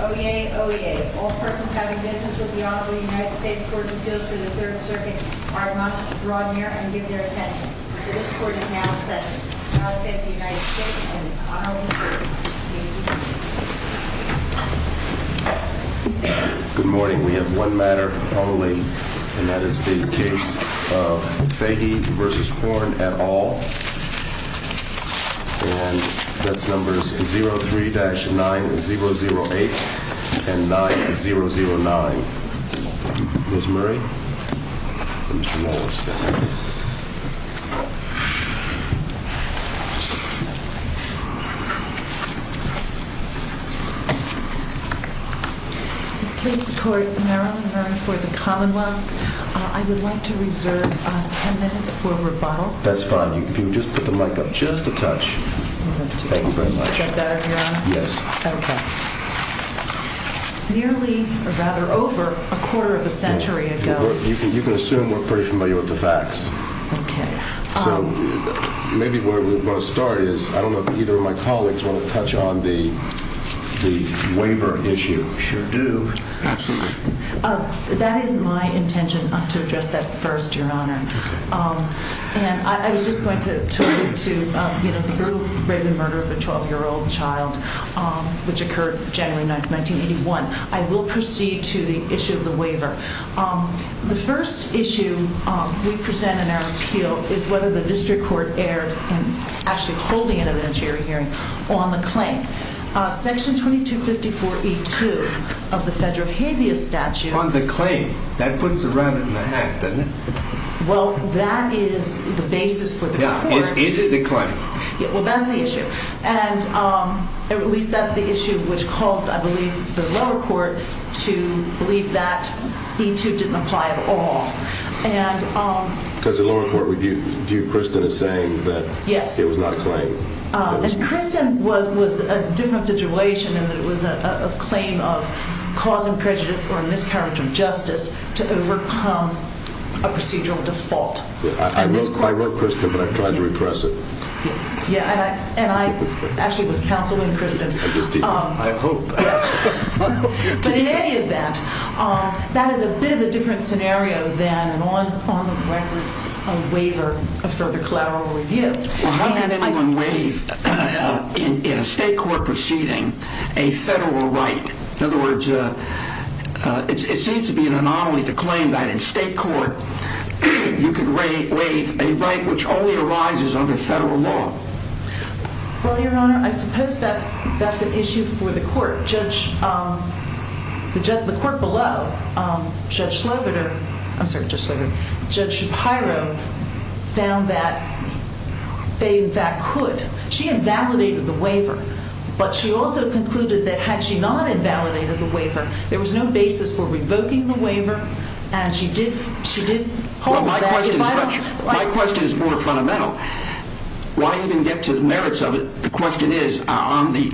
OEA, OEA, all persons having business with the Honorable United States Court of Appeals through the Third Circuit are allowed to draw near and give their attest. This court announces that the Honorable United States Court of Appeals is adjourned. Good morning. We have one matter on the waiting and that is the case of Fahy v. Horn et al. And that number is 03-9008 and 9009. Ms. Murray? Mr. Norris. In the case of the Court of Merrill v. Caldwell, I would like to reserve 10 minutes for rebuttal. That's fine. You can just put the mic up just a touch. Thank you very much. Is that better, Your Honor? Yes. Okay. Nearly, or rather over, a quarter of a century ago. You can assume we're pretty familiar with the facts. Okay. Maybe where we're going to start is, I don't know if either of my colleagues want to touch on the waiver issue. Sure do. Absolutely. That is my intention to address that first, Your Honor. And I would just like to refer to the murder of a 12-year-old child, which occurred January 9th, 1981. I will proceed to the issue of the waiver. The first issue we present in our appeal is whether the district court erred in actually holding it at a jury hearing on the claim. Section 2254E2 of the federal habeas statute. On the claim. That puts it right in the back, doesn't it? Well, that is the basis for the claim. Yeah. Is it the claim? Well, that's the issue. And at least that's the issue which caused, I believe, the lower court to believe that E2 didn't apply at all. Because the lower court would view Kristen as saying that it was not the claim. And Kristen was in a different situation in that it was a claim of causing prejudice or miscarriage of justice to overcome a procedural default. I wrote Kristen, but I tried to repress it. Yeah, and I actually was counseling Kristen. I hope. But he hated that. That is a bit of a different scenario than an on-the-record waiver for the collateral review. Well, how can anyone waive, in a state court proceeding, a federal right? In other words, it seems to be an anomaly to claim that in state court you can waive a right which only arises under federal law. Well, Your Honor, I suppose that's an issue for the court. The court below, Judge Slaverner, I'm sorry, Judge Slaverner, Judge Shapiro, found that they could. She invalidated the waiver. But she also concluded that had she not invalidated the waiver, there was no basis for revoking the waiver. And she did hold that. My question is more fundamental. While you can get to the merits of it, the question is, on the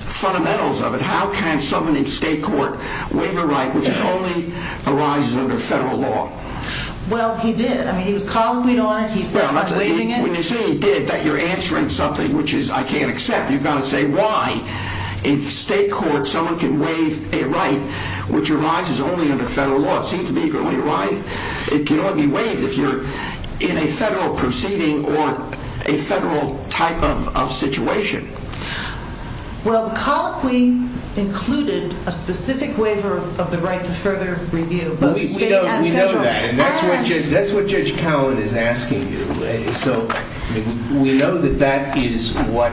fundamentals of it, how can someone in state court waive a right which only arises under federal law? Well, he did. I mean, he was calling me on it. When you say he did, you're answering something which I can't accept. You've got to say why. In state court, someone can waive a right which arises only under federal law. It seems to be the only right. It cannot be waived if you're in a federal proceeding or a federal type of situation. Well, the Colloquy included a specific waiver of the right to further review. We know that. And that's what Judge Cowan is asking you. So we know that that is what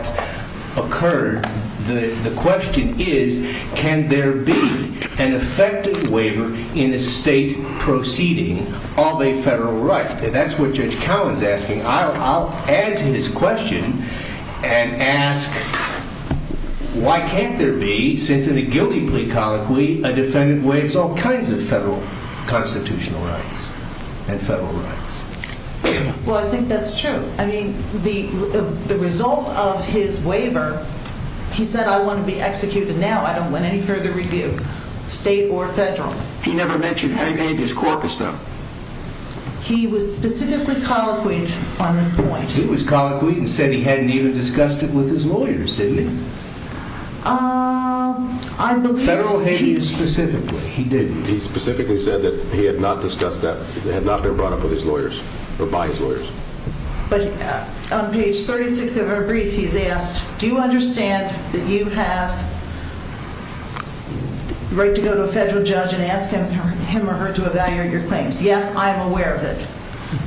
occurred. The question is, can there be an effective waiver in a state proceeding of a federal right? That's what Judge Cowan is asking. I'll add to his question and ask, why can't there be, since in the guilty plea colloquy, a defendant waives all kinds of federal constitutional rights and federal rights? Well, I think that's true. I mean, the result of his waiver, he said, I want to be executed now. I don't want any further review, state or federal. He never mentioned him and his corpus, though. He was specifically colloquial from this point. He was colloquial. He said he hadn't even discussed it with his lawyers, did he? I don't think he did. Federal, he specifically, he didn't. He specifically said that he had not discussed that, had not been brought up with his lawyers or by his lawyers. But on page 36 of our brief, he is asked, do you understand that you have the right to go to a federal judge and ask him or her to evaluate your claims? Yes, I am aware of it.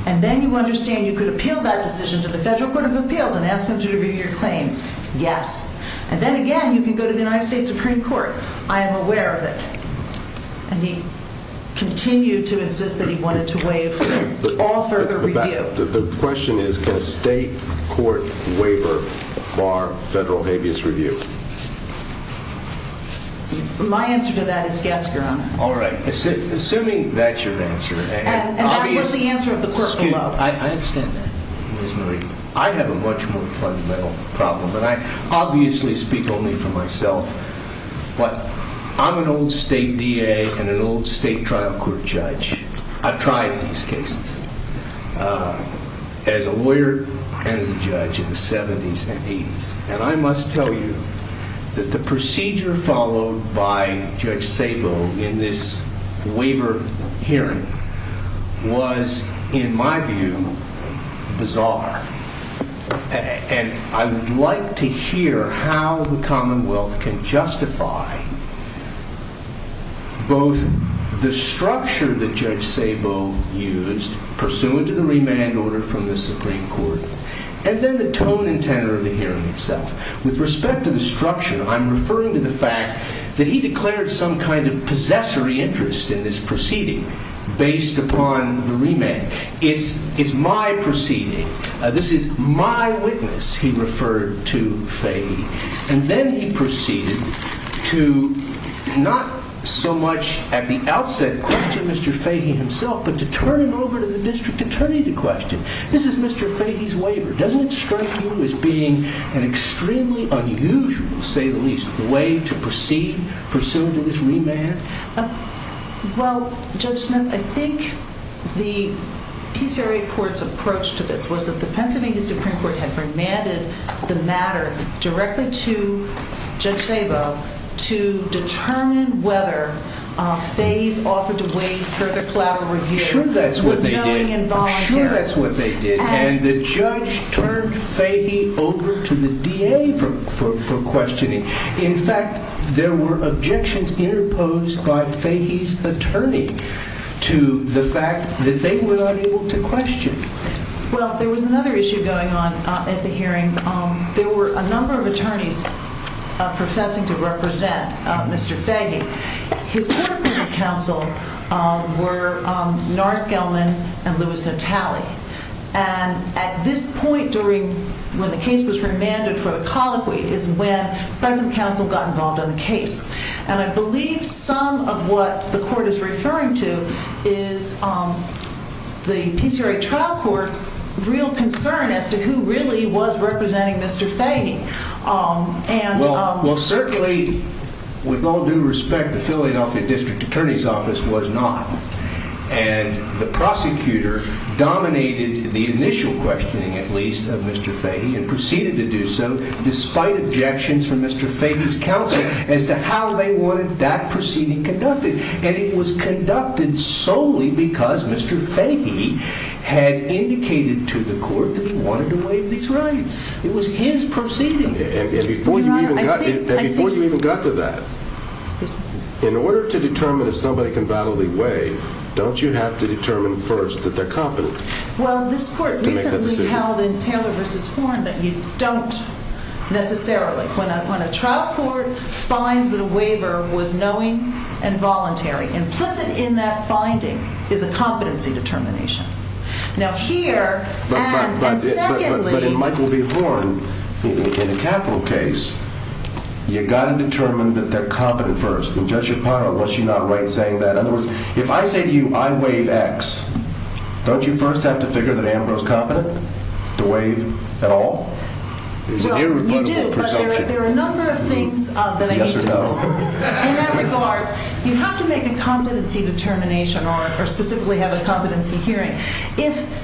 And then you understand you could appeal that decision to the Federal Court of Appeals and ask them to review your claims. Yes. And then again, you can go to the United States Supreme Court. I am aware of it. And he continued to insist that he wanted to waive all further review. The question is, can a state court waiver bar federal habeas review? My answer to that is yes, Your Honor. All right. Assuming that's your answer. And that was the answer of the court as well. Excuse me. I understand that. I have a much more fundamental problem, and I obviously speak only for myself. But I'm an old state DA and an old state trial court judge. I've tried these cases as a lawyer and as a judge in the 70s and 80s. And I must tell you that the procedure followed by Judge Sabo in this waiver hearing was, in my view, bizarre. And I would like to hear how the Commonwealth can justify both the structure that Judge Sabo used pursuant to the remand order from the Supreme Court and then the tone and tenor of the hearing itself. With respect to the structure, I'm referring to the fact that he declared some kind of possessory interest in this proceeding based upon the remand. It's my proceeding. This is my witness, he referred to Fahey. And then he proceeded to not so much at the outset question Mr. Fahey himself, but to turn him over to the district attorney to question. This is Mr. Fahey's waiver. Doesn't it strike you as being an extremely unusual, say the least, way to proceed pursuant to this remand? Well, Judge Smith, I think the PCRA court's approach to this was that the Pennsylvania Supreme Court had remanded the matter directly to Judge Sabo to determine whether Fahey's offer to wait for the collaborative hearing was totally involuntary. I'm sure that's what they did. And the judge turned Fahey over to the DA for questioning. In fact, there were objections imposed by Fahey's attorney to the fact that they were unable to question. Well, there was another issue going on at the hearing. There were a number of attorneys processing to represent Mr. Fahey. His attorneys of counsel were North Gelman and Lewis Natale. And at this point during when the case was remanded for a colloquy is when federal counsel got involved in the case. And I believe some of what the court is referring to is the PCRA trial court's real concern as to who really was representing Mr. Fahey. Well, certainly, with all due respect, the Philadelphia District Attorney's Office was not. And the prosecutor dominated the initial questioning, at least, of Mr. Fahey and proceeded to do so despite objections from Mr. Fahey's counsel as to how they wanted that proceeding conducted. And it was conducted solely because Mr. Fahey had indicated to the court that he wanted to waive these rights. It was his proceeding. And before you even got to that, in order to determine if somebody can validly waive, don't you have to determine first that they're competent? Well, this court recently held in Taylor v. Horn that you don't necessarily. When a trial court finds that a waiver was knowing and voluntary, implicit in that finding is a competency determination. Now here, and secondly... But in Michael v. Horn, in the capital case, you've got to determine that they're competent first. And Judge Shapiro, was she not right in saying that? In other words, if I say to you, I waive X, don't you first have to figure that Ambrose is competent to waive at all? Well, you do, but there are a number of things that I can do. In that regard, you have to make a competency determination or specifically have a competency hearing if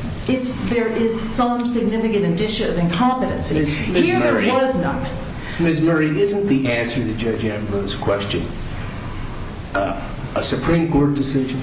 there is some significant addition of incompetence. Here, there was none. Ms. Murray, isn't the answer to Judge Ambrose's question a Supreme Court decision?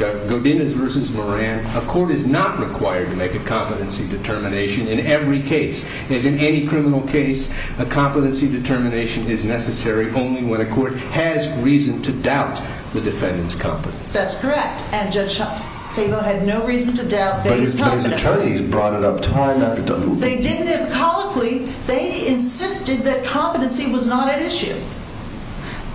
Govindas v. Moran, a court is not required to make a competency determination in every case. And in any criminal case, a competency determination is necessary only when a court has reason to doubt the defendant's competence. That's correct. And Judge Shapiro had no reason to doubt his competence. But his attorneys brought it up time after time. They did. Colloquially, they insisted that competency was not an issue.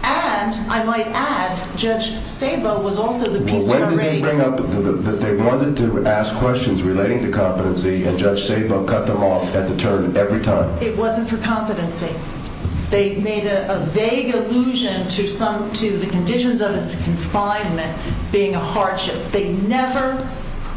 And, I might add, Judge Shapiro was also the piece of the reasoning. Well, what did they bring up? They wanted to ask questions relating to competency, and Judge Shapiro cut them off at the turn every time. It wasn't for competency. They made a vague allusion to the conditions of confinement being a hardship. They never,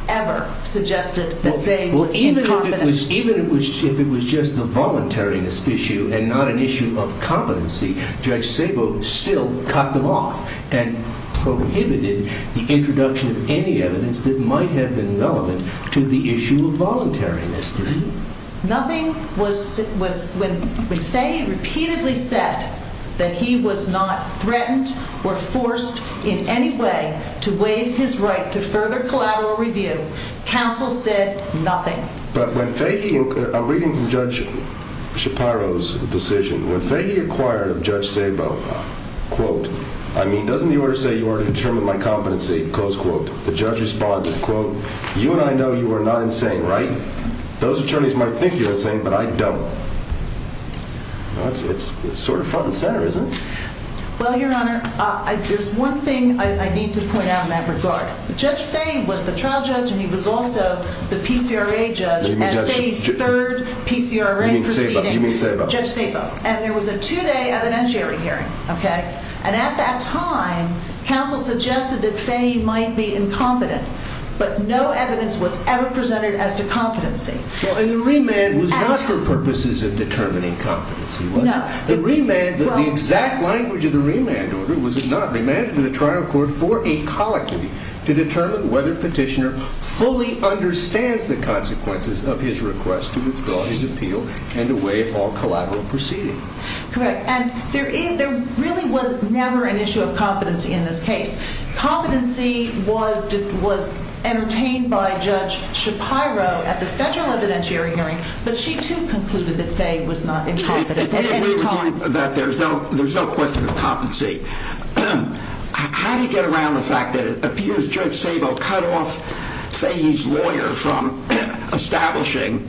ever suggested that they were incompetent. Well, even if it was just a voluntariness issue and not an issue of competency, Judge Shapiro still cut them off and prohibited the introduction of any evidence that might have been relevant to the issue of voluntariness, didn't he? Nothing was, when the state repeatedly said that he was not threatened or forced in any way to waive his right to further collateral review, counsel said nothing. But a reading from Judge Shapiro's decision, when they inquired of Judge Stabo, quote, I mean, doesn't the order say you are determined by competency? Close quote. The judge responded, quote, you and I know you are not insane, right? Those attorneys might think you're insane, but I don't. It's sort of front and center, isn't it? Well, Your Honor, there's one thing I need to point out in that regard. Judge Stabo was the trial judge and he was also the PCRA judge at State's third PCRA proceeding, Judge Stabo. And there was a two-day evidentiary hearing, okay? And at that time, counsel suggested that Stabo might be incompetent, but no evidence was ever presented as to competency. And the remand was not for purposes of determining competency, was it? No. The exact language of the remand was not. And there really was never an issue of competency in this case. Competency was entertained by Judge Shapiro at the second evidentiary hearing, but she soon concluded that they was not incompetent. There's no question of competency. How do you get around the fact that it appears Judge Stabo cut off Fahey's lawyer from establishing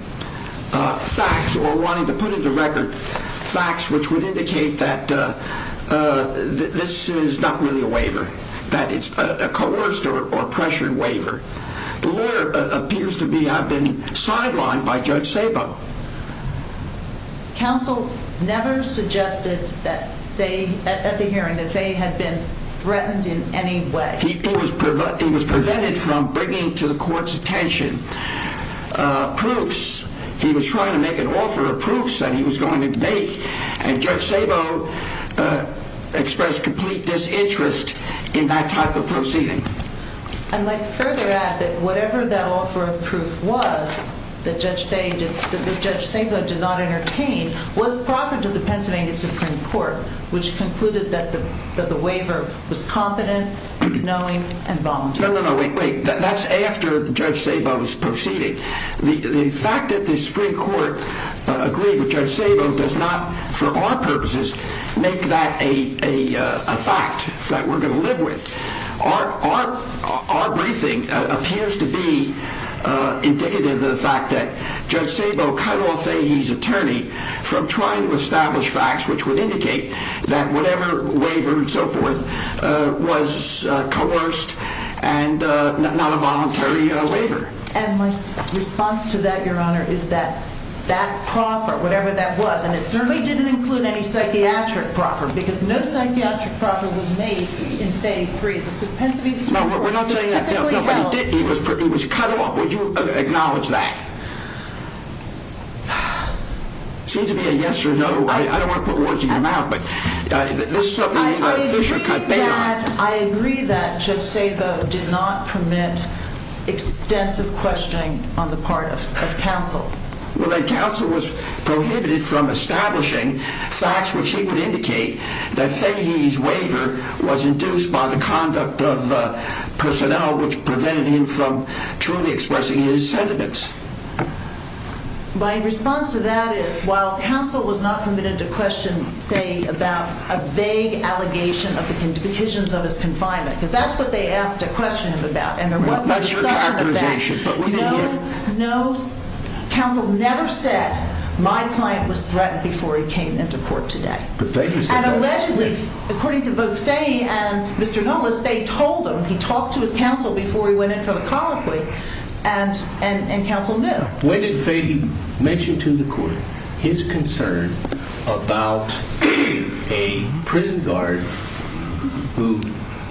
facts or wanting to put into record facts which would indicate that this is not really a waiver, that it's a coerced or pressured waiver? The lawyer appears to have been sidelined by Judge Stabo. Counsel never suggested at the hearing that Fahey had been threatened in any way. He was prevented from bringing to the court's attention proofs. He was trying to make an offer of proofs that he was going to make, and Judge Stabo expressed complete disinterest in that type of proceeding. I might further add that whatever that offer of proof was that Judge Stabo did not entertain was brought to the Pennsylvania Supreme Court, which concluded that the waiver was competent, knowing, and voluntary. No, no, no, wait, wait. That's after Judge Stabo's proceeding. The fact that the Supreme Court agreed with Judge Stabo does not, for our purposes, make that a fact that we're going to live with. Our briefing appears to be indicative of the fact that Judge Stabo cut off Fahey's attorney from trying to establish facts which would indicate that whatever waiver and so forth was coerced and not a voluntary waiver. And my response to that, Your Honor, is that that proffer, whatever that was, and it certainly didn't include any psychiatric proffer because no psychiatric proffer was made in Fahey's brief. No, we're not saying that. No, it didn't. It was cut off. Would you acknowledge that? It seems to be a yes or a no. I don't want to put words in your mouth, but this should cut back. I agree that Judge Stabo did not permit extensive questioning on the part of counsel. Counsel was prohibited from establishing facts which he could indicate that Fahey's waiver was induced by the conduct of personnel which prevented him from truly expressing his sentiments. My response to that is, while counsel was not permitted to question, say, about a vague allegation of the petitions of his confinement, because that's what they asked questions about. No, counsel never said, my client was threatened before he came into court today. And allegedly, according to both Fahey and Mr. Gomez, they told him. He talked to counsel before he went into a conflict, and counsel knew. When did Fahey mention to the court his concern about a prison guard who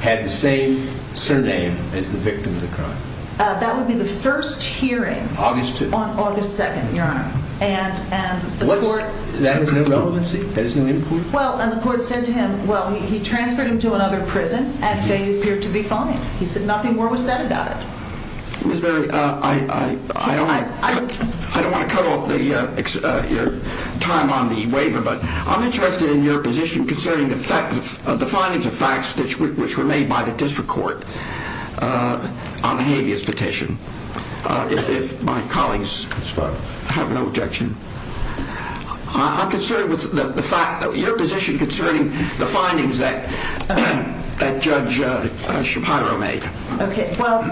had the same surname as the victim of the crime? That would be the first hearing. August 2nd. On August 2nd, Your Honor. And the court... What was that? Was there no relevancy? Well, and the court said to him, well, he transferred him to another prison, and Fahey appeared to be fine. He said nothing more was said about it. I don't want to cut off your time on the waiver, but I'm interested in your position concerning the findings of facts which were made by the district court on the habeas petition. If my colleagues have no objection. I'm concerned with your position concerning the findings that Judge Shapiro made. Okay. Well,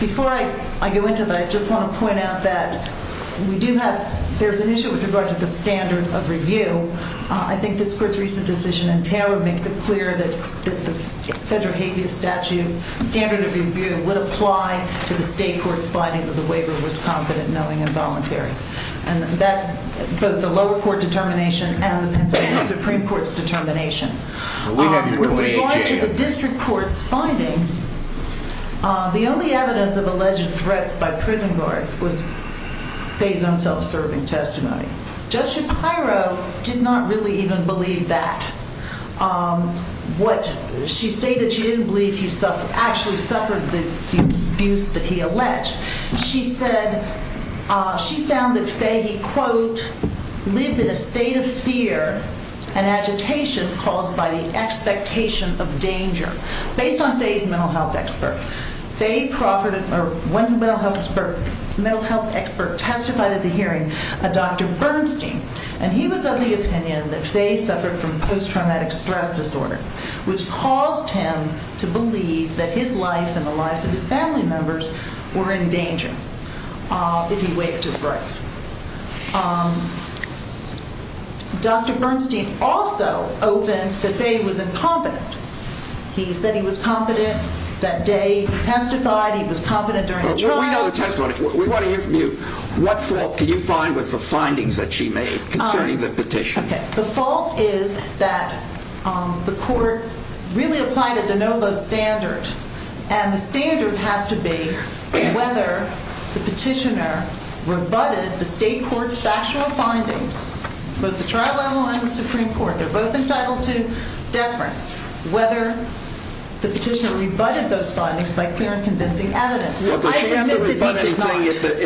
before I go into that, I just want to point out that we do have, there's an issue with regard to the standard of review. I think this court's recent decision in Taylor makes it clear that the federal habeas statute standard of review would apply to the state court's findings of the waiver was competent, knowing, and voluntary. And that's both the lower court determination and the Supreme Court's determination. With regard to the district court findings, the only evidence of alleged threat by prison guards was Fahey's own self-serving testimony. Judge Shapiro did not really even believe that. She stated she didn't believe he actually suffered the abuse that he alleged. She said she found that Fahey, quote, lived in a state of fear and agitation caused by the expectation of danger. Based on Fahey's mental health expert, Fahey Crawford, or one mental health expert, testified at the hearing of Dr. Bernstein, and he was of the opinion that Fahey suffered from post-traumatic stress disorder, which caused him to believe that his life and the lives of his family members were in danger if he waived his rights. Dr. Bernstein also opened that Fahey was incompetent. He said he was competent that day. He testified he was competent during the trial. But we know the testimony. What fault do you find with the findings that she made concerning the petition? Okay. The fault is that the court really applied it as a no-vote standard, and the standards have to be whether the petitioner rebutted the state court's factual findings, both the trial level and the Supreme Court. They're both entitled to deference, whether the petitioner rebutted those findings by clear and convincing evidence. The rebutting thing is that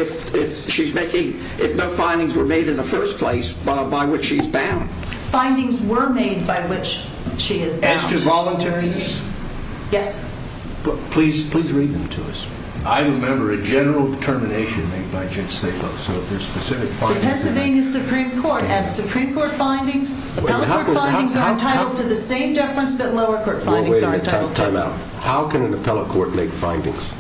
if no findings were made in the first place, by which she is bound. Findings were made by which she is bound. As to voluntariness? Yes. Please read them to us. I remember a general determination made by Judge Staple, It has to be the Supreme Court. As Supreme Court findings, appellate court findings are entitled to the same deference that lower court findings are entitled to. Wait a minute. Time out. How can an appellate court make findings?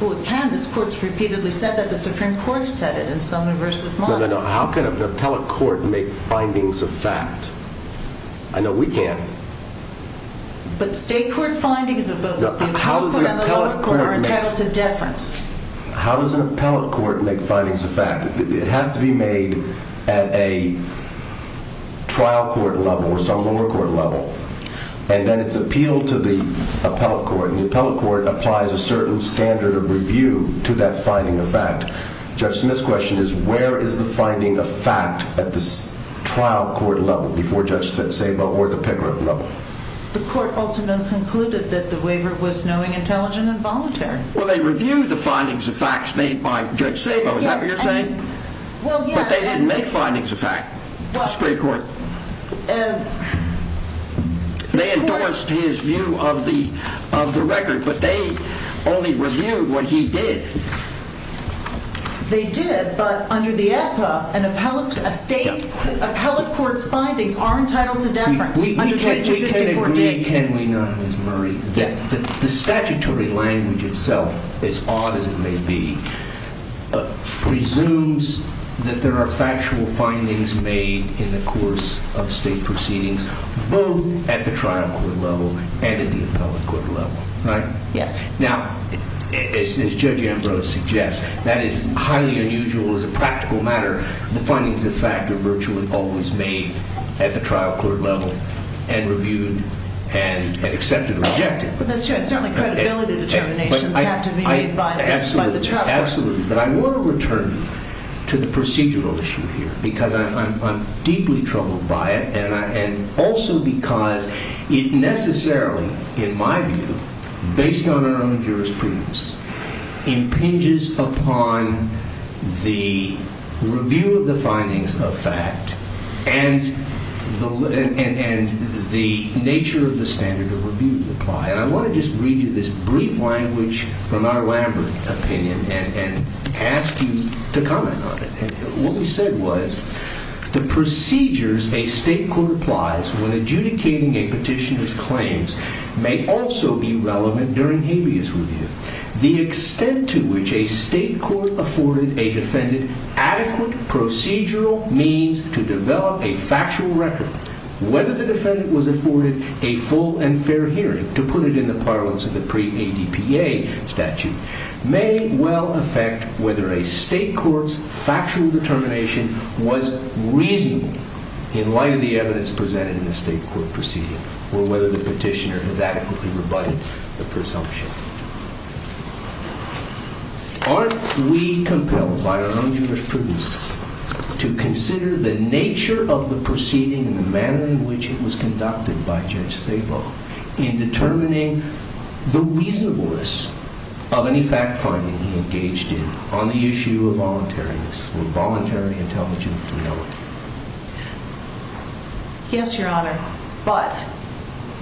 Well, it can. This court has repeatedly said that. The Supreme Court has said it in Sumner v. Martin. No, no, no. How can an appellate court make findings of fact? I know we can. But state court findings are both entitled to deference. How does an appellate court make findings of fact? It has to be made at a trial court level or some lower court level. And then it's appealed to the appellate court. And the appellate court applies a certain standard of review to that finding of fact. Judge Smith's question is, where is the finding of fact at the trial court level before Judge Staple or the picker level? The court ultimately concluded that the waiver was knowing, intelligent, and voluntary. Well, they reviewed the findings of fact made by Judge Staple. Is that what you're saying? Well, yeah. But they didn't make findings of fact. That's a great point. They endorsed his view of the record, but they only reviewed what he did. They did, but under the APA, an appellate court's findings aren't entitled to deference. We can agree, can we not, Ms. Murray? Yeah. The statutory language itself, as odd as it may be, presumes that there are factual findings made in the course of state proceedings, both at the trial court level and at the appellate court level. Right? Yeah. Now, as Judge Ambrose suggests, that is highly unusual as a practical matter, the findings of fact are virtually always made at the trial court level and reviewed and accepted or rejected. But that's not a credibility determination. They have to be made by the trial court. Absolutely. But I want to return to the procedural issue here because I'm deeply troubled by it and also because it necessarily, in my view, based on our own jurisprudence, impinges upon the review of the findings of fact and the nature of the standard of review that apply. I want to just read you this brief language from our elaborate opinion and ask you to comment on it. What he said was, the procedures a state court applies when adjudicating a petitioner's claims may also be relevant during habeas review. The extent to which a state court afforded a defendant adequate procedural means to develop a factual record, whether the defendant was afforded a full and fair hearing, to put it in the parlance of the pre-ADPA statute, may well affect whether a state court's factual determination was reasonable in light of the evidence presented in the state court procedure or whether the petitioner has adequately rebutted the presumption. Aren't we compelled by our own jurisprudence to consider the nature of the proceeding and the manner in which it was conducted by Judge Papoff in determining the reasonableness of any fact-finding he engaged in on the issue of voluntariness or voluntary intelligence? Yes, Your Honor. But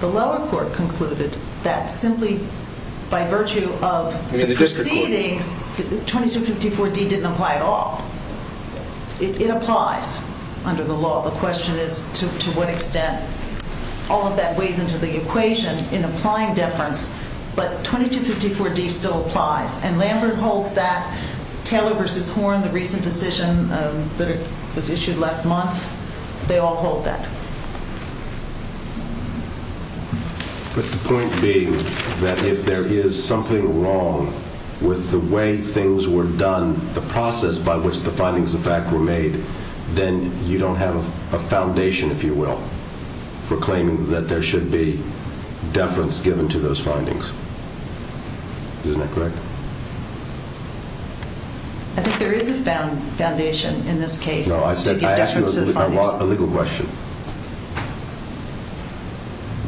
the lower court concluded that simply by virtue of the proceeding, 2254D didn't apply at all. It applies under the law. The question is to what extent. All of that weighs into the equation in applying difference, but 2254D still applies. And Lambert holds that. Taylor v. Horn, the recent decision that was issued last month, they all hold that. But the point being that if there is something wrong with the way things were done, the process by which the findings of fact were made, then you don't have a foundation, if you will, for claiming that there should be deference given to those findings. Isn't that correct? I think there is a foundation in this case. No, I asked you a legal question.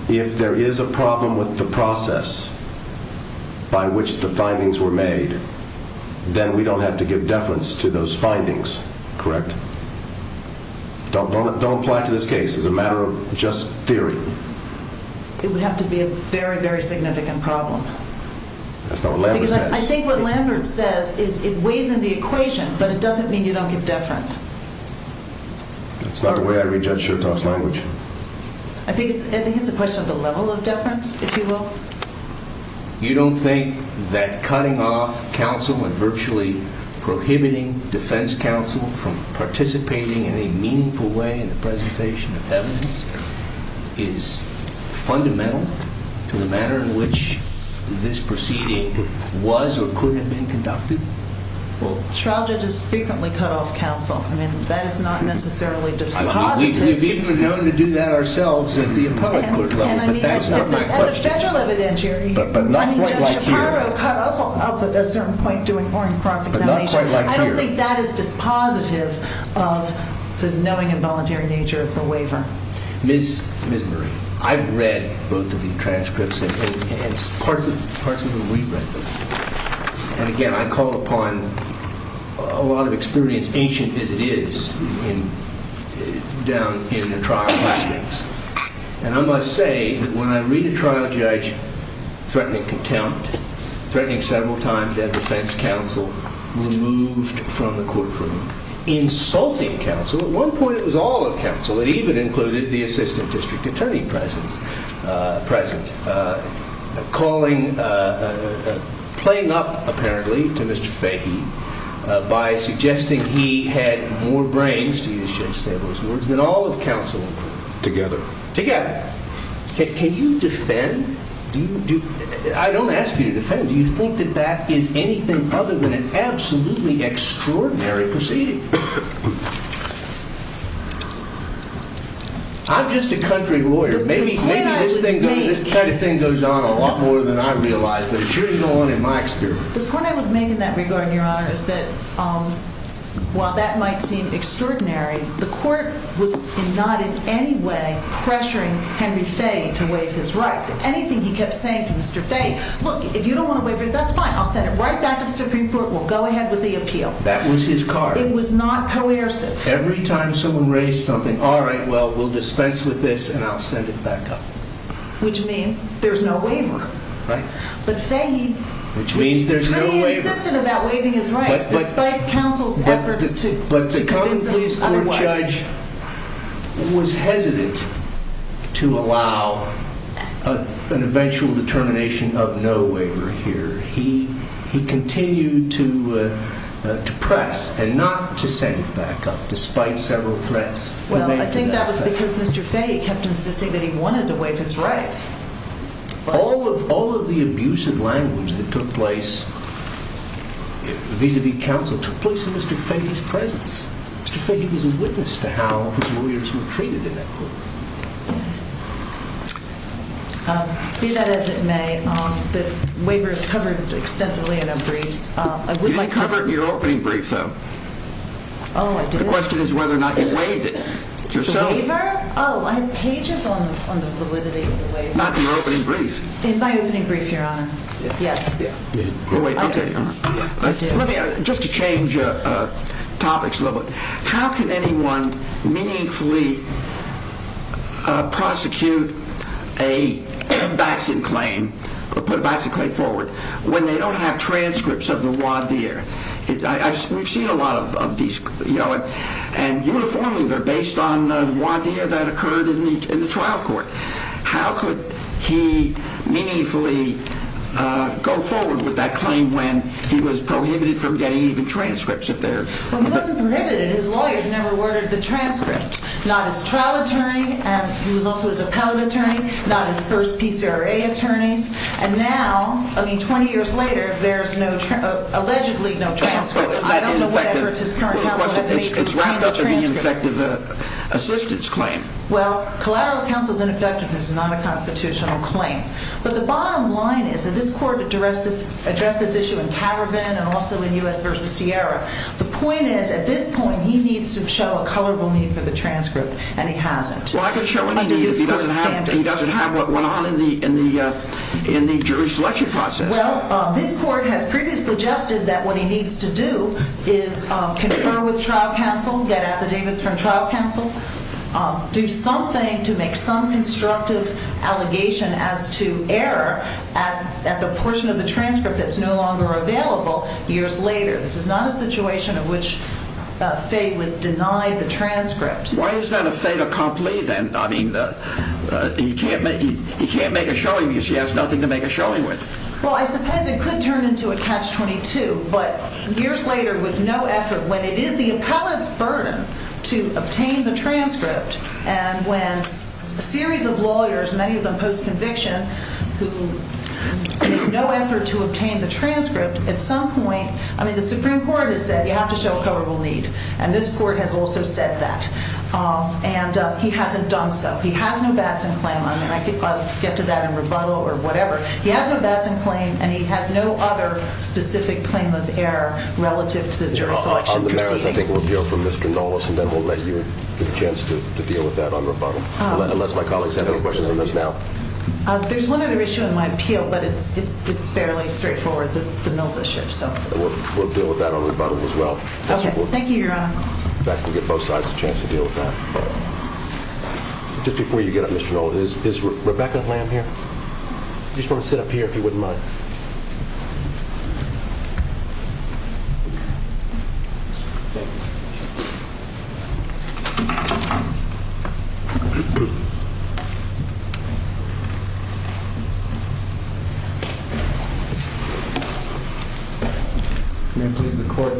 If there is a problem with the process by which the findings were made, then we don't have to give deference to those findings, correct? Don't apply to this case. It's a matter of just theory. It would have to be a very, very significant problem. That's not what Lambert says. I think what Lambert says is it weighs into the equation, but it doesn't mean you don't give deference. That's not the way I read Judge Chertoff's language. I think it's a question of the level of deference, if you will. You don't think that cutting off counsel and virtually prohibiting defense counsel from participating in a meaningful way in the presentation of evidence is fundamental to the manner in which this proceeding was or could have been conducted? Well, trial judges frequently cut off counsel, and that is not necessarily dispositive. We've even known to do that ourselves at the Apollo Court level, but that's not my question. But not quite like here. I don't think that is dispositive of the knowing and voluntary nature of the waiver. Ms. Murray, I've read both of these transcripts, and it's part of the waiver. And again, I call upon a lot of experience, ancient as it is, down in the trial findings. And I must say that when I read a trial judge threatening contempt, threatening several times to have defense counsel removed from the courtroom, it even included the assistant district attorney present, playing up, apparently, to Mr. Fahey by suggesting he had more brains than all of counsel. Together. Together. I don't ask you to defend. Do you think that that is anything other than an absolutely extraordinary proceeding? I'm just a country lawyer. Maybe this type of thing goes on a lot more than I realize, but it sure didn't go on in my experience. The point I would make in that regard, Your Honor, is that while that might seem extraordinary, the court was not in any way pressuring Henry Fahey to waive his rights. Anything he kept saying to Mr. Fahey, look, if you don't want to waive it, that's fine. I'll send it right back to the Supreme Court. We'll go ahead with the appeal. That was his card. It was not coercive. Every time someone raised something, all right, well, we'll dispense with this, and I'll send it back up. Which means there's no waiver. Right. But Fahey... Which means there's no waiver. But he insisted about waiving his rights, despite counsel's efforts to... But the county police court judge was hesitant to allow an eventual determination of no waiver here. He continued to press and not to send it back up, despite several threats. Well, I think that was because Mr. Fahey kept insisting that he wanted to waive his rights. All of the abusive language that took place vis-à-vis counsel took place in Mr. Fahey's presence. Mr. Fahey was a witness to how his lawyers were treated in that court. Be that as it may, the waiver is covered extensively in a brief. You didn't cover it in your opening brief, though. Oh, I didn't? The question is whether or not you waived it. The waiver? Oh, can you check on the waiver? Not in your opening brief. In my opening brief, Your Honor. Yes. Okay. Just to change topics a little bit, how can anyone meaningfully prosecute a vaccine claim, put a vaccine claim forward, when they don't have transcripts of the voir dire? We've seen a lot of these, and uniformly they're based on voir dire that occurred in the trial court. How could he meaningfully go forward with that claim when he was prohibited from getting even transcripts of theirs? Well, he wasn't prohibited. His lawyers never ordered the transcripts. Not his trial attorney, as you look with the appellate attorney, not his first PCRA attorney, and now, I mean, 20 years later, there's allegedly no transcripts. I don't know what efforts his current counsel has made to get transcripts. It's rather an ineffective assistance claim. Well, collateral counsel's ineffectiveness is not a constitutional claim. But the bottom line is that this court addressed this issue in Tavervan and also in U.S. v. Sierra. The point is, at this point, he needs to show a colorable need for the transcript, and he hasn't. Well, I could show a need if he doesn't have one in the jury selection process. Well, this court has previously suggested that what he needs to do is confer with trial counsel, get an affidavit from trial counsel, do something to make some constructive allegation as to error at the portion of the transcript that's no longer available years later. This is not a situation in which Faye would deny the transcript. Why is that if Faye can't make a showing if she has nothing to make a showing with? Well, I suppose it could turn into a catch-22, but years later, with no effort, when it is the appellant's burden to obtain the transcript, and when a series of lawyers, many of them post-conviction, with no effort to obtain the transcript, at some point, I mean, the Supreme Court has said, you have to show a colorable need, and this court has also said that. And he hasn't done so. He has an investment claim. I mean, I could probably get to that in rebuttal or whatever. He has an investment claim, and he has no other specific claim of error relative to the jurisdiction. On the marriage, I think we'll deal with Ms. Gondolas, and then we'll maybe get a chance to deal with that on rebuttal, unless my colleagues have any questions on this now. There's one other issue in my appeal, but it's fairly straightforward. There's no other issue, so. We'll deal with that on rebuttal as well. Okay. Thank you, Your Honor. In fact, we'll get both sides a chance to deal with that. Just before you get up, Mr. Knowles, is Rebecca Lamb here? You just want to sit up here, if you wouldn't mind.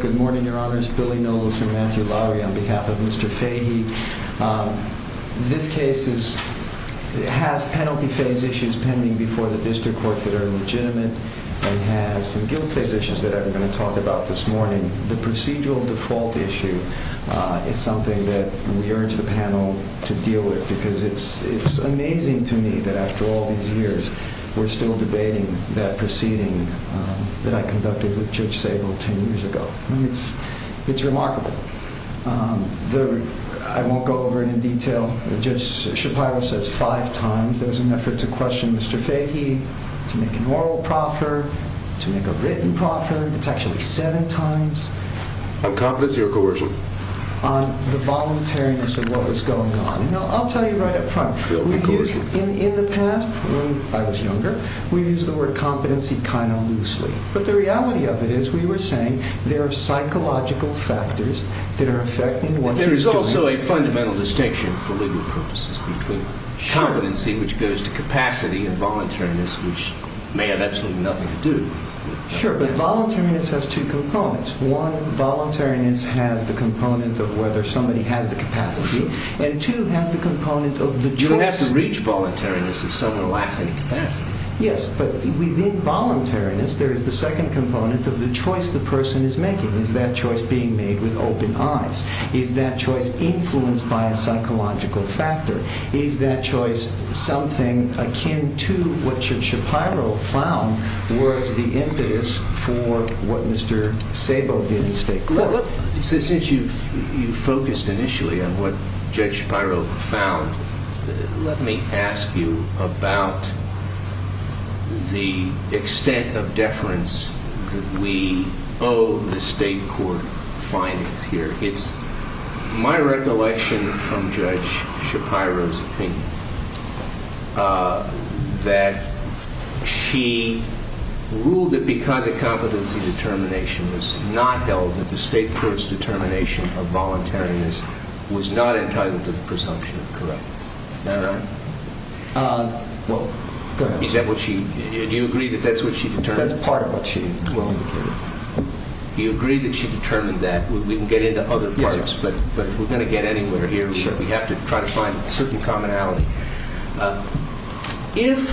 Good morning, Your Honors. This is Billy Knowles from Andrew Lowry on behalf of Mr. Fahey. This case has penalty phase issues pending before the district court that are legitimate, and it has the guilt phase issues that I'm going to talk about this morning. The procedural default issue is something that we urge the panel to deal with, because it's amazing to me that after all these years, we're still debating that proceeding that I conducted with Judge Sabol 10 years ago. I mean, it's remarkable. I won't go over it in detail. Judge Sabol says five times there was an effort to question Mr. Fahey, to make a moral proffer, to make a written proffer. It's actually seven times. On competency or coercion? The voluntariness of what is going on. I'll tell you right up front. But the reality of it is we were saying there are psychological factors that are affecting one's ability. There's also a fundamental distinction for legal purposes, which is competency, which goes to capacity, and voluntariness, which may have absolutely nothing to do with it. Sure, but voluntariness has two components. One, voluntariness has the component of whether somebody has the capacity, and two, has the component of the choice. You don't have to reach voluntariness if someone lacks any capacity. Yes, but within voluntariness there is the second component of the choice the person is making. Is that choice being made with open eyes? Is that choice influenced by a psychological factor? Is that choice something akin to what Judge Shapiro found was the impetus for what Mr. Sabol did mistakely? Since you focused initially on what Judge Shapiro found, let me ask you about the extent of deference that we owe the state court findings here. It's my recollection from Judge Shapiro's opinion that she ruled that because of competency determination it was not held that the state court's determination of voluntariness was not entirely the presumption of correctness. Is that right? Well, perhaps. Is that what she—do you agree that that's what she determined? That's part of what she determined. You agree that she determined that. We can get into other parts, but if we're going to get anywhere here, we have to try to find a certain commonality. If—and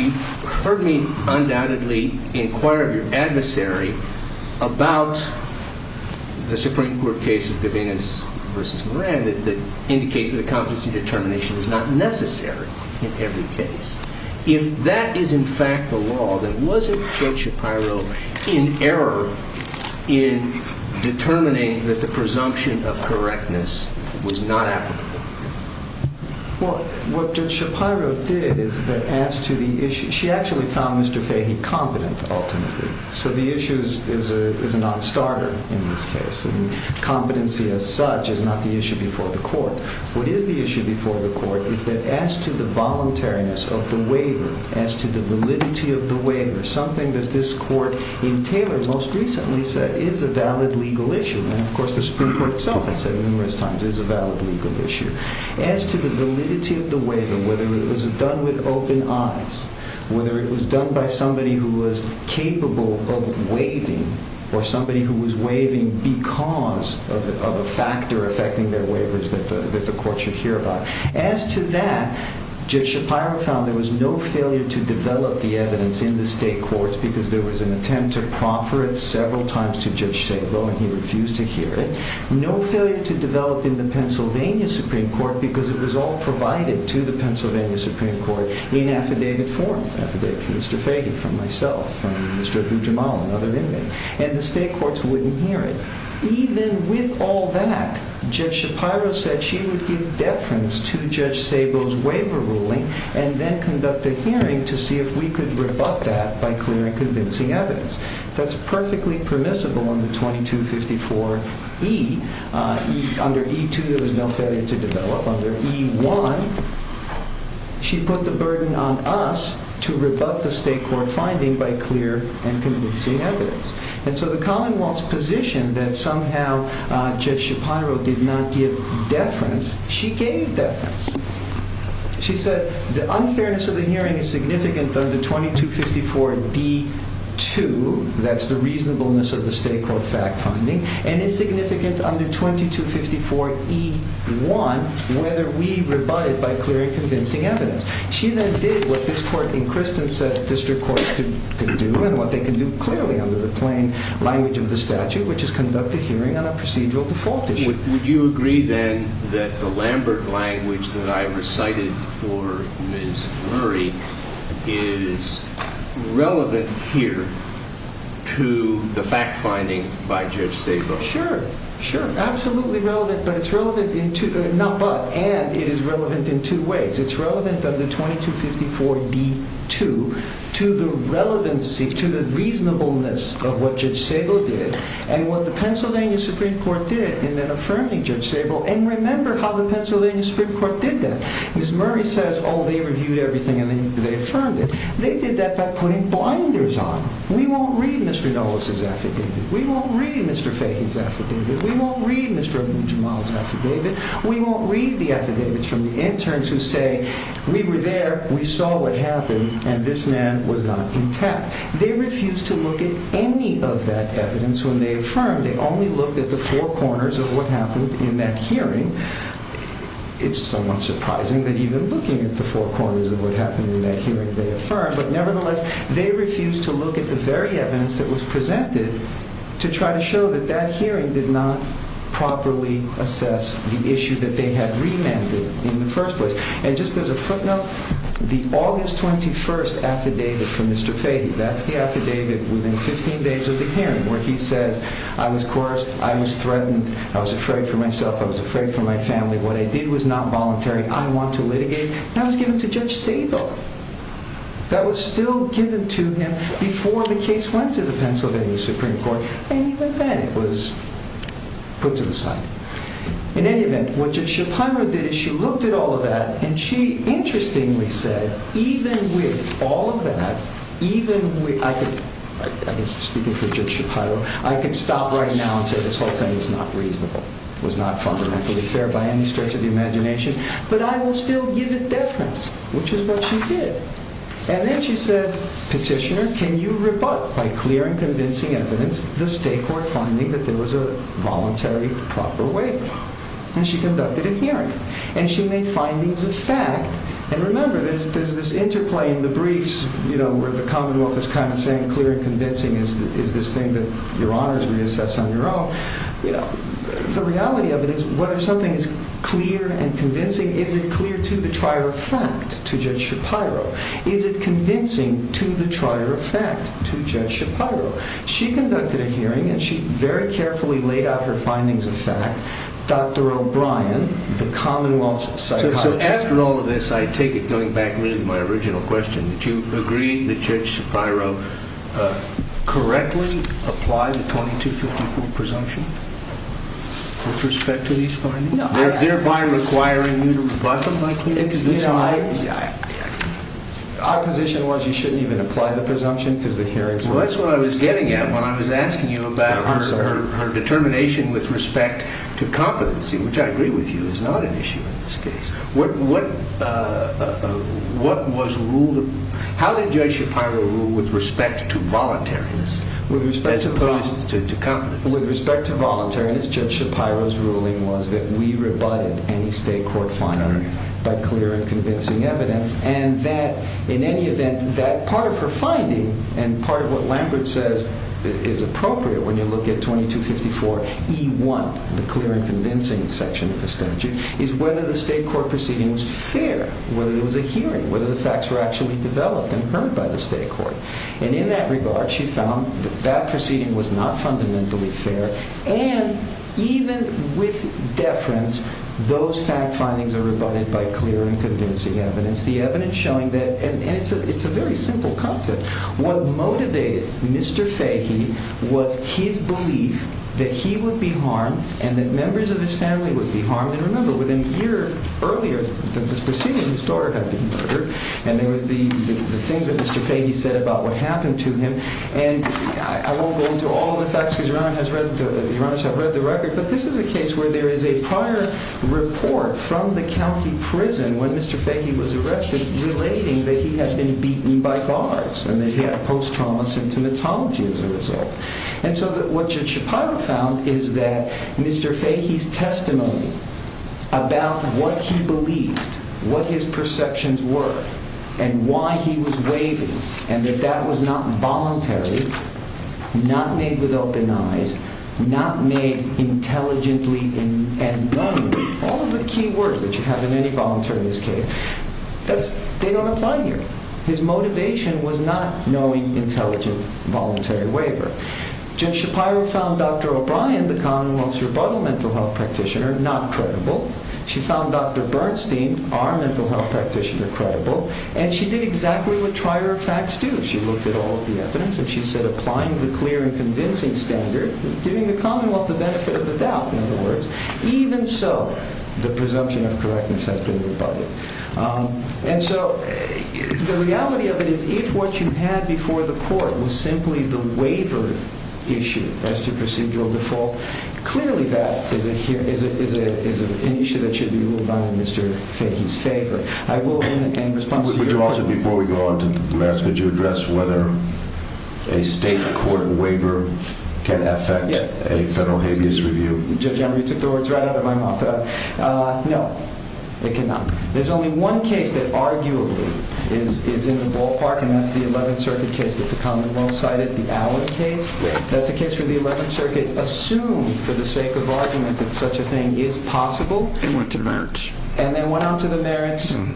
you've heard me undoubtedly inquire of your adversary about the Supreme Court case of Devennis v. Moran that indicates that a competency determination is not necessary in every case. If that is in fact the law, then wasn't Judge Shapiro in error in determining that the presumption of correctness was not applicable? Well, what Judge Shapiro did is that as to the issue—she actually found Mr. Fahey competent, ultimately. So the issue is not a starter in this case, and competency as such is not the issue before the court. What is the issue before the court is that as to the voluntariness of the waiver, as to the validity of the waiver, something that this court in Taylor most recently said is a valid legal issue. And, of course, the Supreme Court itself has said numerous times it is a valid legal issue. As to the validity of the waiver, whether it was done with open eyes, whether it was done by somebody who was capable of waiving, or somebody who was waiving because of a factor affecting their waivers that the court should hear about. As to that, Judge Shapiro found there was no failure to develop the evidence in the state courts because there was an attempt to prompt for it several times to Judge Shapiro, and he refused to hear it. No failure to develop in the Pennsylvania Supreme Court because it was all provided to the Pennsylvania Supreme Court in affidavit form. It was affidavit from myself, from Mr. Gujramal, another inmate. And the state courts wouldn't hear it. Even with all that, Judge Shapiro said she would give deference to Judge Stable's waiver ruling and then conduct a hearing to see if we could rebut that by clearly convincing evidence. That's perfectly permissible under 2254E. Under E2, there was no failure to develop. Under E1, she put the burden on us to rebut the state court finding by clear and convincing evidence. And so the Commonwealth's position that somehow Judge Shapiro did not give deference, she gave deference. She said the unfairness of the hearing is significant under 2254B2. That's the reasonableness of the state court fact finding. And it's significant under 2254E1 whether we rebut it by clear and convincing evidence. She then did what this court in Christensen's district court could do and what they can do clearly under the plain language of the statute, which is conduct a hearing on a procedural default issue. Would you agree then that the Lambert language that I recited for Ms. Murray is relevant here to the fact finding by Judge Stable? Sure, absolutely relevant. But it's relevant in two ways. It's relevant under 2254B2 to the relevancy, to the reasonableness of what Judge Stable did. And what the Pennsylvania Supreme Court did in their affirming Judge Stable, and remember how the Pennsylvania Supreme Court did that. Ms. Murray says, oh, they reviewed everything and they affirmed it. They did that by putting blinders on. We won't read Mr. Nolas's affidavit. We won't read Mr. Fagan's affidavit. We won't read Mr. Jamal's affidavit. We won't read the affidavits from the interns who say, we were there, we saw what happened, and this man was not intact. They refused to look at any of that evidence when they affirmed. They only looked at the four corners of what happened in that hearing. It's somewhat surprising that even looking at the four corners of what happened in that hearing, they affirmed. But nevertheless, they refused to look at the very evidence that was presented to try to show that that hearing did not properly assess the issue that they had remanded in the first place. And just as a footnote, the August 21st affidavit from Mr. Fagan, that's the affidavit within 15 days of the hearing, where he said, I was coerced, I was threatened, I was afraid for myself, I was afraid for my family, what I did was not voluntary, I want to litigate. That was given to Judge Stable. That was still given to him before the case went to the Pennsylvania Supreme Court, and even then it was put to the side. In any event, what Judge Shapiro did is she looked at all of that, and she interestingly said, even with all of that, even with, I was speaking for Judge Shapiro, I could stop right now and say this whole thing was not reasonable, was not fundamentally fair by any stretch of the imagination, but I would still give it deference, which is what she did. And then she said, Petitioner, can you rebut by clear and convincing evidence the state court finding that there was a voluntary, proper waiver? And she conducted a hearing. And she made findings of fact. And remember, there's this interplay in the briefs, you know, where the Commonwealth is kind of saying clear and convincing is this thing that your honors reassess on your own. The reality of it is whether something is clear and convincing, is it clear to the trier of fact, to Judge Shapiro? Is it convincing to the trier of fact, to Judge Shapiro? She conducted a hearing, and she very carefully laid out her findings of fact. Dr. O'Brien, the Commonwealth Psychologist. Well, after all of this, I take it, going back to my original question, that you agree that Judge Shapiro correctly applied the 2250 presumption with respect to these findings, thereby requiring you to rebut them? Yes, I did. Our position was you shouldn't even apply the presumption to the hearing. Well, that's what I was getting at when I was asking you about her determination with respect to competency, which I agree with you is not an issue in this case. What was ruled? How did Judge Shapiro rule with respect to voluntariness, with respect to competency, to competency? With respect to voluntariness, Judge Shapiro's ruling was that we rebutted any state court finding by clear and convincing evidence. And that, in any event, that part of her finding, and part of what Lambert says is appropriate when you look at 2254E1, the clear and convincing section of the statute, is whether the state court proceeding was fair, whether it was a hearing, whether the facts were actually developed and heard by the state court. And in that regard, she found that that proceeding was not fundamentally fair. And even with deference, those fact findings are rebutted by clear and convincing evidence, the evidence showing that, and it's a very simple concept, what motivated Mr. Fahey was his belief that he would be harmed and that members of his family would be harmed. I don't know if you remember within a year earlier that this proceeding was started on a murder, and it would be the things that Mr. Fahey said about what happened to him. And I won't go into all of the facts. Your Honor, I've read the record. But this is a case where there is a prior report from the county prison where Mr. Fahey was arrested relating that he had been beaten by thugs, and that he had a post-traumatic symptomatology as a result. And so what your Chicago found is that Mr. Fahey's testimony about what he believed, what his perceptions were, and why he was waiving, and that that was not voluntary, not made with open eyes, not made intelligently and bluntly, all of the key words that you have in any voluntary case, they don't apply here. His motivation was not knowing intelligent voluntary waiver. Judge Shapiro found Dr. O'Brien, the Commonwealth's rebuttal mental health practitioner, not credible. She found Dr. Bernstein, our mental health practitioner, credible. And she did exactly what trier attacks do. She looked at all of the evidence, and she said applying the clear and convincing standard, giving the Commonwealth the benefit of the doubt, in other words. Even so, the presumption of correctness has been rebutted. And so the reality of it is if what you had before the court was simply the waiver issue as to procedural default, clearly that is an issue that should be looked on in Mr. Fahey's case. But I will open it again in response to your question. Would you also, before we go on to the rest, would you address whether a state court waiver can affect a federal habeas review? Judge, I'm going to throw words right out of my mouth. No, it cannot. There's only one case that arguably is in the ballpark, and that's the 11th Circuit case that's a common one-sided, the Allen case. That's a case where the 11th Circuit assumed for the sake of argument that such a thing is possible. And went to merits. And then went on to the merits. And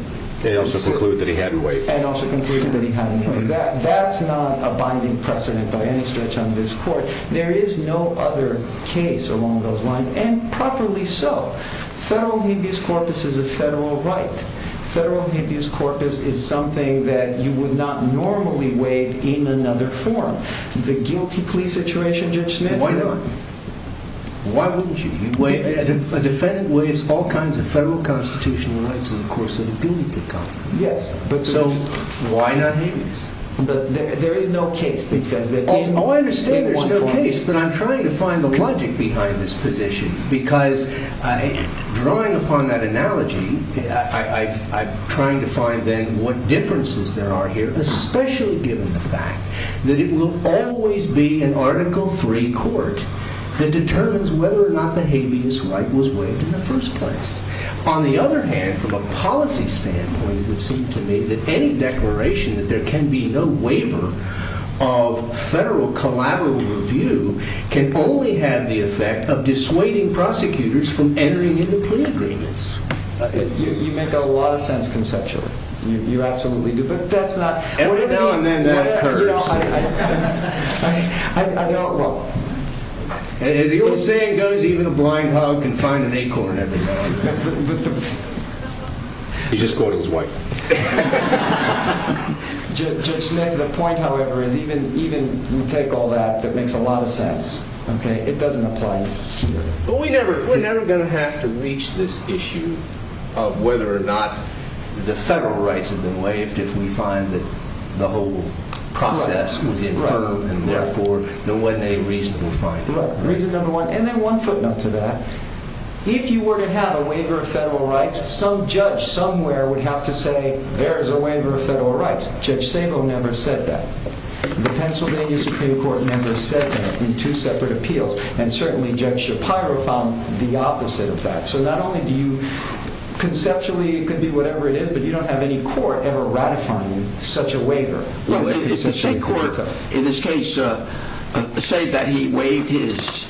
also concluded that he had to do that. And also concluded that he had to do that. That's not a binding precedent by any stretch on this court. There is no other case along those lines. And probably so. Federal habeas corpus is a federal right. Federal habeas corpus is something that you would not normally waive in another forum. The guilty plea situation, Judge Smith, you don't. Why not? Why wouldn't you? Well, it's all kinds of federal constitutional rights. And, of course, an opinion may come. Yes. But so why not? There is no case. Oh, I understand there's no case. But I'm trying to find the logic behind this position. Because drawing upon that analogy, I'm trying to find then what differences there are here. Especially given the fact that it will always be an Article III court that determines whether or not the habeas right was waived in the first place. On the other hand, from a policy standpoint, it would seem to me that any declaration that there can be no waiver of federal collaborative review can only have the effect of dissuading prosecutors from entering into plea agreements. You make a lot of sense conceptually. You absolutely do. But that's not everything. No, and then that occurs. I don't know. And if you're saying that even a blind hog can find an acorn every now and then, he just caught his wife. Just making a point, however, and even you take all that, it makes a lot of sense. It doesn't apply here. But we're never going to have to reach this issue of whether or not the federal rights have been waived if we find that the whole process was inferred and therefore there wasn't any reason to find them. And then one footnote to that. If you were to have a waiver of federal rights, some judge somewhere would have to say, there's a waiver of federal rights. Judge Stengel never said that. The Pennsylvania Supreme Court never said that in two separate appeals. And certainly Judge Shapiro found the opposite of that. So not only do you conceptually, it could be whatever it is, but you don't have any court ever ratifying such a waiver. In this case, say that he waived his,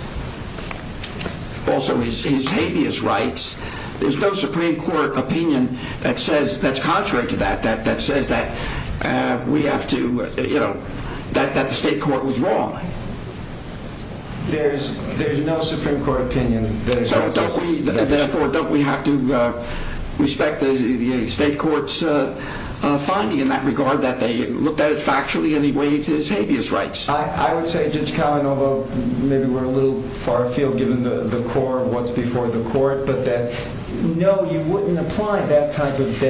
also his habeas rights. There's no Supreme Court opinion that says, that's contrary to that, that says that we have to, you know, that the state court was wrong. There's no Supreme Court opinion. Therefore, don't we have to respect the state court's finding in that regard that they looked at it factually and he waived his habeas rights? I would say, Judge Kallen, although maybe we're a little far afield given the court, what's before the court, but that, no, you wouldn't apply that kind of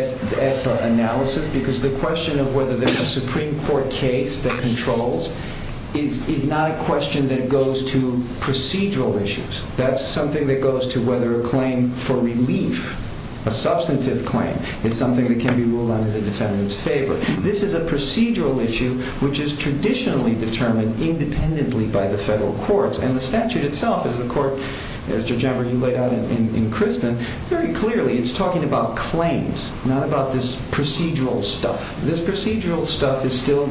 analysis. Because the question of whether there's a Supreme Court case that controls is not a question that goes to procedural issues. That's something that goes to whether a claim for relief, a substantive claim, is something that can be ruled under the defendant's favor. This is a procedural issue, which is traditionally determined independently by the federal courts. And the statute itself, as the court, Mr. Jenner, you laid out in Kristin, very clearly, it's talking about claims, not about this procedural stuff. This procedural stuff is still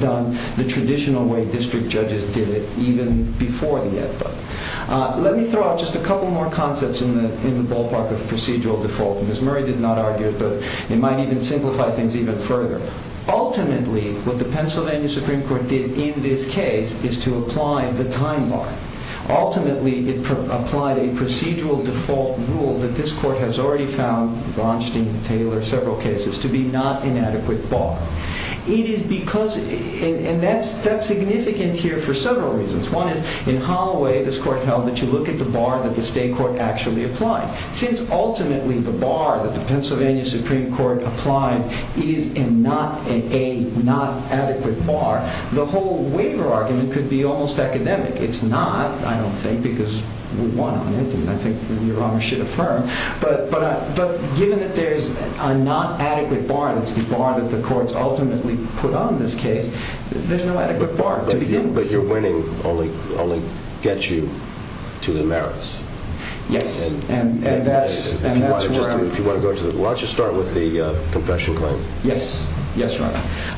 done the traditional way district judges did it, even before the edict. Let me throw out just a couple more concepts in the ballpark of procedural default. Ms. Murray did not argue it, but it might even simplify things even further. Ultimately, what the Pennsylvania Supreme Court did in this case is to apply the time bar. Ultimately, it applied a procedural default rule that this court has already found, Blonstein, Taylor, several cases, to be not an adequate bar. And that's significant here for several reasons. One is, in common way, this court found that you look at the bar that the state court actually applied. Since, ultimately, the bar that the Pennsylvania Supreme Court applied is not an adequate bar, the whole waiver argument could be almost academic. It's not, I don't think, because we want to admit it. I think your Honor should affirm. But given that there's a not adequate bar, it's the bar that the courts ultimately put on this case. There's no adequate bar to begin with. Your winning only gets you to the merits. Yes. And that's what I'm talking about. Do you want to go into it? Let's just start with the confessional claim. Yes. Yes, Your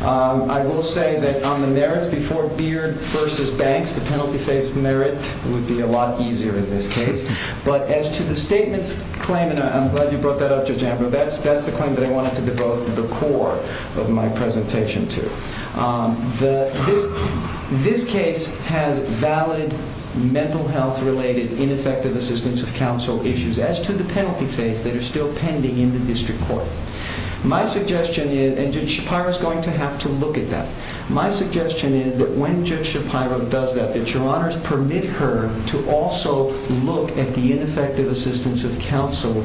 Honor. I will say that on the merits before Beard v. Banks, the penalty phase merits would be a lot easier in this case. But as to the statement's claim, and I'm glad you brought that up, Judge Antler, that's the claim that I wanted to devote the core of my presentation to. This case has valid mental health-related ineffective assistance of counsel issues. As to the penalty phase, they are still pending in the district court. My suggestion is, and Judge Shapiro is going to have to look at that. My suggestion is that when Judge Shapiro does that, that Your Honors permit her to also look at the ineffective assistance of counsel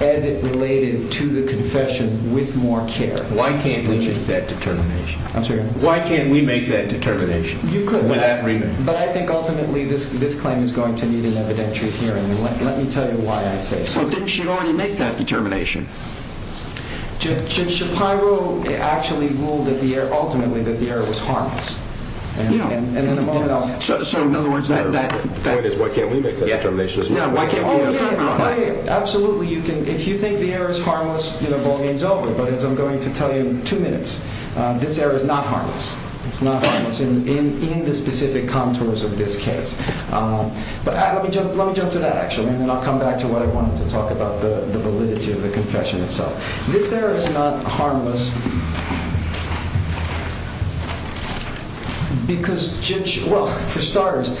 as it related to the confession with more care. Why can't we make that determination? I'm sorry? Why can't we make that determination? You could, but I think ultimately this claim is going to need an evidentiary hearing. Let me tell you why I say it. But didn't she already make that determination? Judge Shapiro actually ruled ultimately that Beard was harmless. And the point I was trying to make is why can't we make that determination? Why can't we make that determination? Absolutely, if you think Beard is harmless, hold hands over it. But as I'm going to tell you in two minutes, this Beard is not harmless. It's not harmless in the specific contours of this case. But let me jump to that, actually, and then I'll come back to what I wanted to talk about, the validity of the confession itself. This Beard is not harmless because, well, for starters,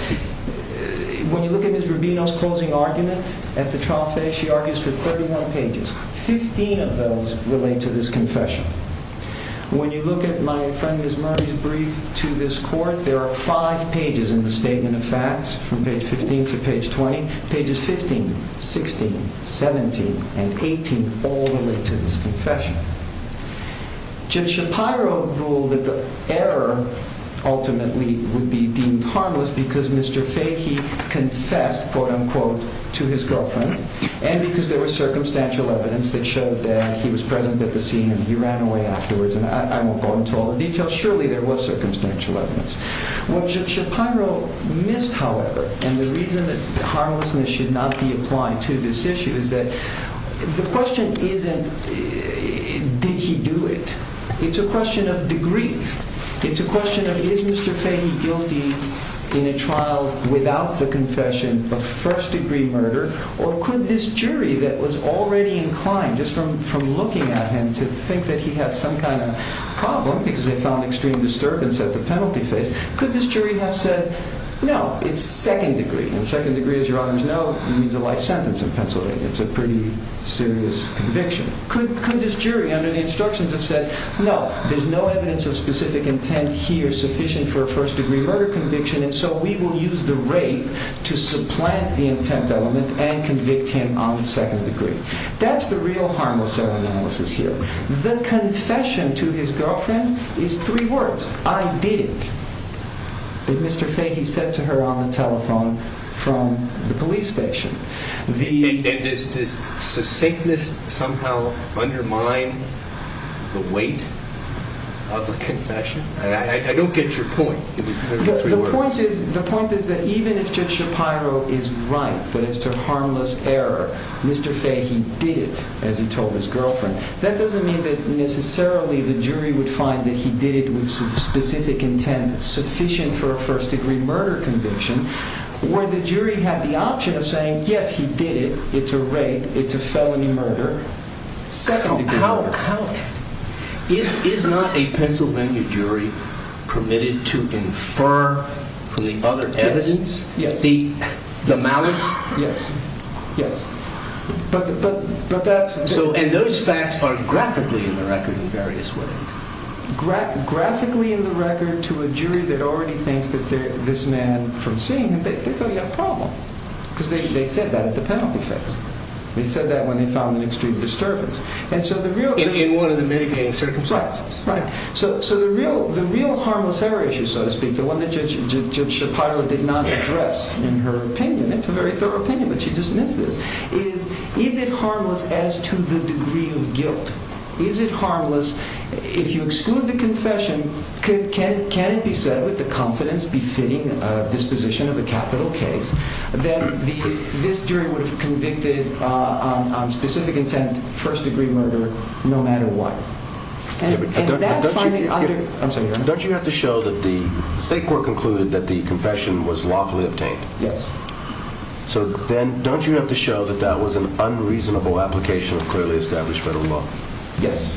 when you look at Ms. Rubino's closing argument at the trial, she argues for 31 pages. 15 of those relate to this confession. When you look at my friend Ms. Murray's brief to this court, there are five pages in the statement of facts, from page 15 to page 20. Pages 15, 16, 17, and 18 all relate to this confession. Judge Shapiro ruled that the error ultimately would be being harmless because Mr. Fahey confessed, quote-unquote, to his girlfriend, and because there was circumstantial evidence that showed that he was present at the scene and he ran away afterwards. And I won't go into all the details. Surely there was circumstantial evidence. What Judge Shapiro missed, however, and the reason that harmlessness should not be applied to this issue, is that the question isn't did he do it. It's a question of degree. It's a question of is Mr. Fahey guilty in a trial without the confession of first degree murder, or could this jury that was already inclined just from looking at him to think that he had some kind of problem because they found extreme disturbance at the penalty case, could this jury have said, no, it's second degree. Second degree, as your honors know, means a life sentence in Pennsylvania. It's a pretty serious conviction. Could this jury under the instructions have said, no, there's no evidence of specific intent here sufficient for a first degree murder conviction, and so we will use the rape to supplant the intent element and convict him on the second degree. That's the real harmlessness analysis here. The confession to his girlfriend is three words. I did, as Mr. Fahey said to her on the telephone from the police station. Does the sickness somehow undermine the weight of the confession? I don't get your point. The point is that even if Judge Shapiro is right with his sort of harmless error, Mr. Fahey did it, as he told his girlfriend, that doesn't mean that necessarily the jury would find that he did it with some specific intent sufficient for a first degree murder conviction, where the jury had the option of saying, yes, he did it. It's a rape. It's a felony murder. Second degree. Is not a Pennsylvania jury permitted to infer the other evidence? Yes. The malice? Yes. Yes. And those facts are graphically in the record in various ways. Graphically in the record to a jury that already thinks that this man from seeing him, they're going to have a problem. Because they said that at the penalty session. They said that when they found an extreme disturbance. In one of the many cases. Circumstances. Right. So the real harmless error issue, so to speak, the one that Judge Shapiro did not address in her opinion, it's a very thorough opinion, but she dismissed it, is, is it harmless as to the degree of guilt? Is it harmless? If you exclude the confession, can it be said with the confidence befitting this position of a capital case, that this jury was convicted on specific intent, first degree murder, no matter what? And that's fine. Don't you have to show that the state court concluded that the confession was lawfully obtained? Yes. So, Ben, don't you have to show that that was an unreasonable application of clearly established federal law? Yes.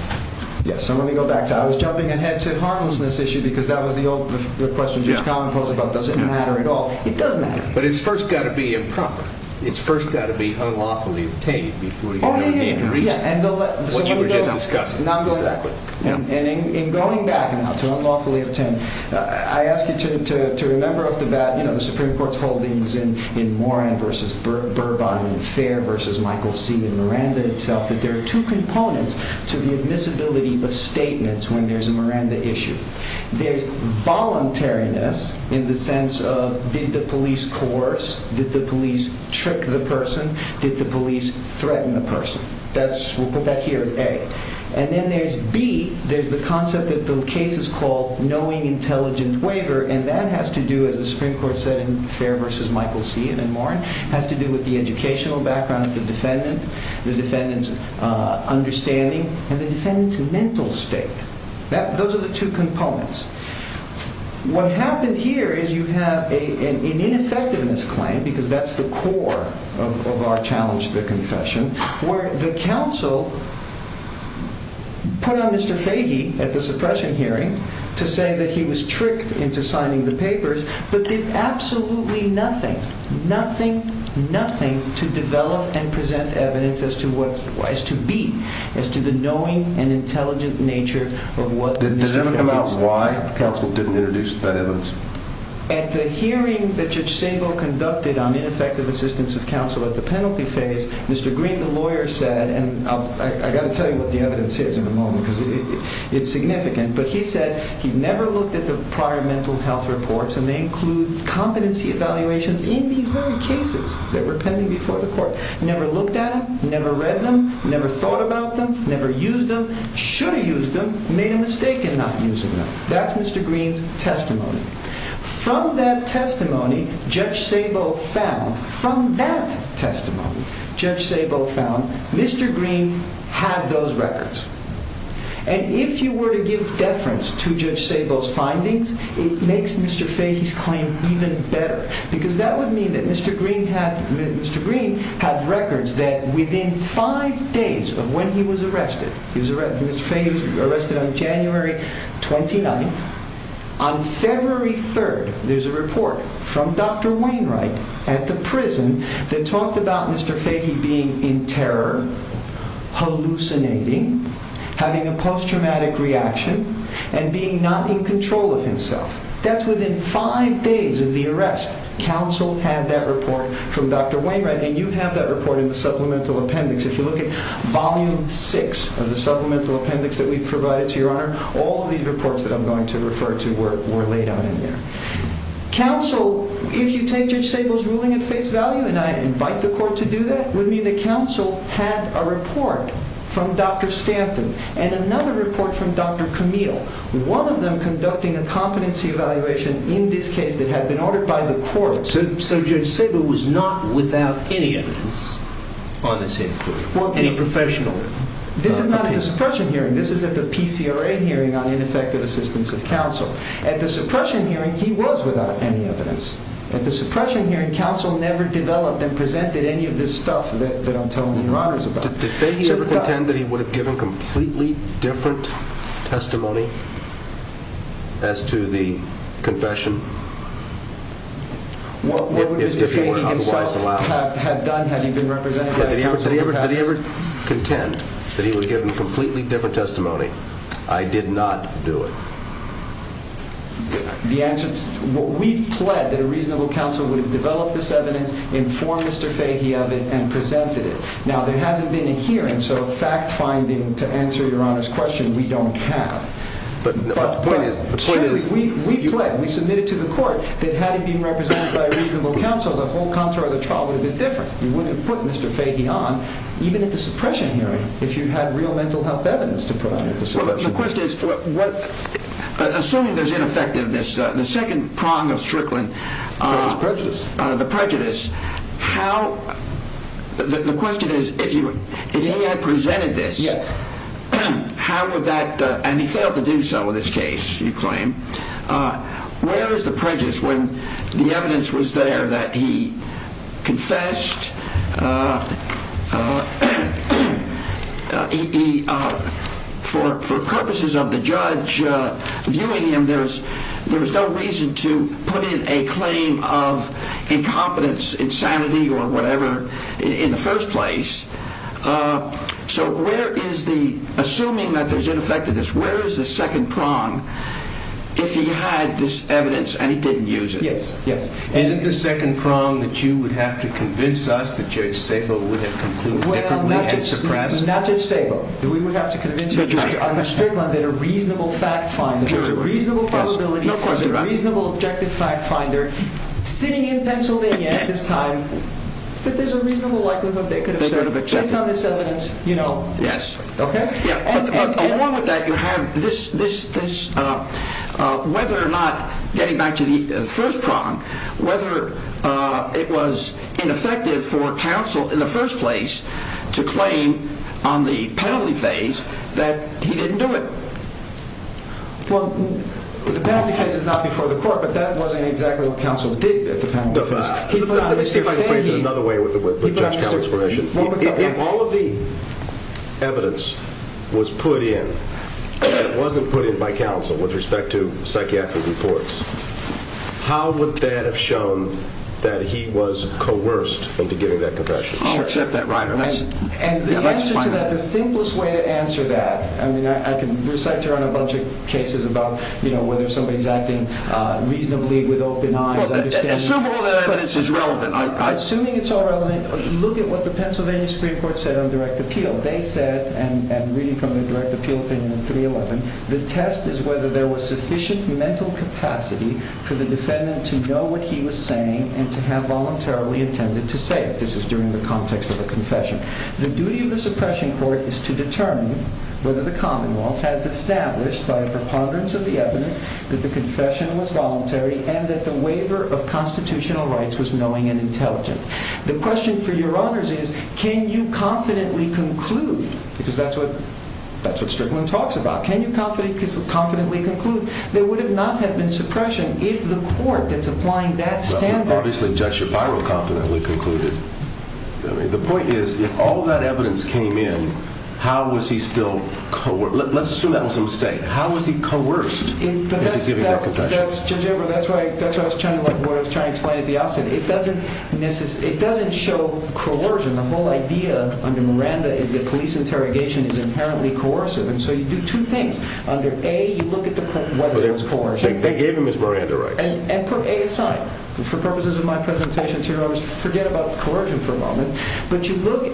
Yes. So let me go back to, I was jumping ahead to the harmlessness issue because that was the old, the question that Colin posed about does it matter at all. It does matter. But it's first got to be improper. It's first got to be unlawfully obtained. Oh, yeah, yeah. What you were just discussing. Exactly. And in going back now to unlawfully obtained, I ask you to remember that, you know, the Supreme Court's holdings in Moran v. Burbar and Fair v. Michael C. and Miranda itself, that there are two components to the admissibility of statements when there's a Miranda issue. There's voluntariness in the sense of did the police coerce, did the police trick the person, did the police threaten the person. That's, we'll put that here, A. And then there's B. There's the concept that the case is called knowing intelligence waiver, and that has to do, as the Supreme Court said in Fair v. Michael C. and Moran, has to do with the educational background of the defendant, the defendant's understanding, and the defendant's mental state. Those are the two components. What happened here is you have an ineffectiveness claim, because that's the core of our challenge to the confession, where the counsel put on Mr. Fahey at the suppression hearing to say that he was tricked into signing the papers, but did absolutely nothing, nothing, nothing to develop and present evidence as to what it was to be, as to the knowing and intelligent nature of what the defendant was. And why counsel didn't introduce that evidence. At the hearing that Judge Sable conducted on ineffective assistance of counsel at the penalty phase, Mr. Green, the lawyer, said, and I've got to tell you what the evidence is in a moment because it's significant, but he said he never looked at the prior mental health reports, and they include competency evaluations in these very cases that were pending before the court, never looked at them, never read them, never thought about them, never used them, should have used them, made a mistake in not using them. That's Mr. Green's testimony. From that testimony, Judge Sable found, from that testimony, Judge Sable found Mr. Green had those records. And if you were to give deference to Judge Sable's findings, it makes Mr. Fahey's claim even better, because that would mean that Mr. Green had records that within five days of when he was arrested, Mr. Fahey was arrested on January 29th, on February 3rd, there's a report from Dr. Wainwright at the prison that talked about Mr. Fahey being in terror, hallucinating, having a post-traumatic reaction, that's within five days of the arrest, counsel had that report from Dr. Wainwright, and you have that report in the supplemental appendix. If you look at volume six of the supplemental appendix that we've provided to your honor, all these reports that I'm going to refer to were laid out in there. Counsel, if you take Judge Sable's ruling at face value, and I invite the court to do that, it would mean that counsel had a report from Dr. Stanton and another report from Dr. Camille, one of them conducting a competency evaluation in this case that had been ordered by the court, so Judge Sable was not without any evidence. On the same court? On the same professional court. Different than the suppression hearing. This is at the PCRA hearing on ineffective assistance of counsel. At the suppression hearing, he was without any evidence. At the suppression hearing, counsel never developed and presented any of this stuff that I'm telling your honors about. Did Fahey ever contend that he would have given a completely different testimony as to the confession? What would Mr. Fahey himself have done had he been represented by counsel? Did he ever contend that he would have given a completely different testimony? I did not do it. The answer is, we pled that a reasonable counsel would have developed this evidence, informed Mr. Fahey of it, and presented it. Now, there hadn't been a hearing, so fact-finding, to answer your honors' question, we don't have. But the point is, we pled, we submitted to the court, that had it been represented by a reasonable counsel, the whole contour of the trial would have been different. You wouldn't have put Mr. Fahey on, even at the suppression hearing, if you had real mental health evidence to present. The question is, assuming there's ineffectiveness, the second prong of Strickland, The prejudice. The prejudice, how, the question is, if he had presented this, how would that, and he failed to do so in this case, you claim, where is the prejudice when the evidence was there that he confessed, For purposes of the judge viewing him, there is no reason to put in a claim of incompetence, insanity, or whatever, in the first place, so where is the, assuming that there's ineffectiveness, where is the second prong if he had this evidence and he didn't use it? Isn't the second prong that you would have to convince us that Judge Szabo would have concluded that there was a prejudice? Well, not Judge Szabo. We would have to convince Judge Strickland that a reasonable fact finder, a reasonable probability, a reasonable objective fact finder, sitting in Pennsylvania at this time, that there's a reasonable likelihood that he could have said, based on this evidence, you know, Along with that, you have this, whether or not, getting back to the first prong, whether it was ineffective for counsel in the first place to claim on the penalty phase that he didn't do it. Well, the penalty phase is not before the court, but that wasn't exactly what counsel did at the time. In other words, if all of the evidence was put in, and it wasn't put in by counsel with respect to psychiatric reports, how would that have shown that he was coerced into giving that confession? And the answer to that, the simplest way to answer that, I mean, I can recite to you a bunch of cases about, you know, whether somebody's acting reasonably with open eyes. Assume all that evidence is relevant. Assuming it's all relevant, look at what the Pennsylvania Supreme Court said on direct appeal. They said, and read from the direct appeal thing in 311, the test is whether there was sufficient mental capacity for the defendant to know what he was saying and to have voluntarily intended to say it. This is during the context of the confession. The duty of the suppression court is to determine whether the Commonwealth has established, by the ponderance of the evidence, that the confession was voluntary and that the waiver of constitutional rights was knowing and intelligent. The question for your honors is, can you confidently conclude? Because that's what Strickland talks about. Can you confidently conclude? There would not have been suppression if the court that's applying that standard. Obviously, Judge Shavaro confidently concluded. The point is, if all that evidence came in, how was he still coerced? Let's assume that's a mistake. How was he coerced into giving that confession? Judge Shavaro, that's what I was trying to explain at the outset. It doesn't show coercion. The whole idea under Miranda is that police interrogation is inherently coercive, and so you do two things. Under A, you look at whether it's coercive. They gave him his Miranda rights. And for A, it's fine. For purposes of my presentation, your honors, forget about coercion for a moment. But you look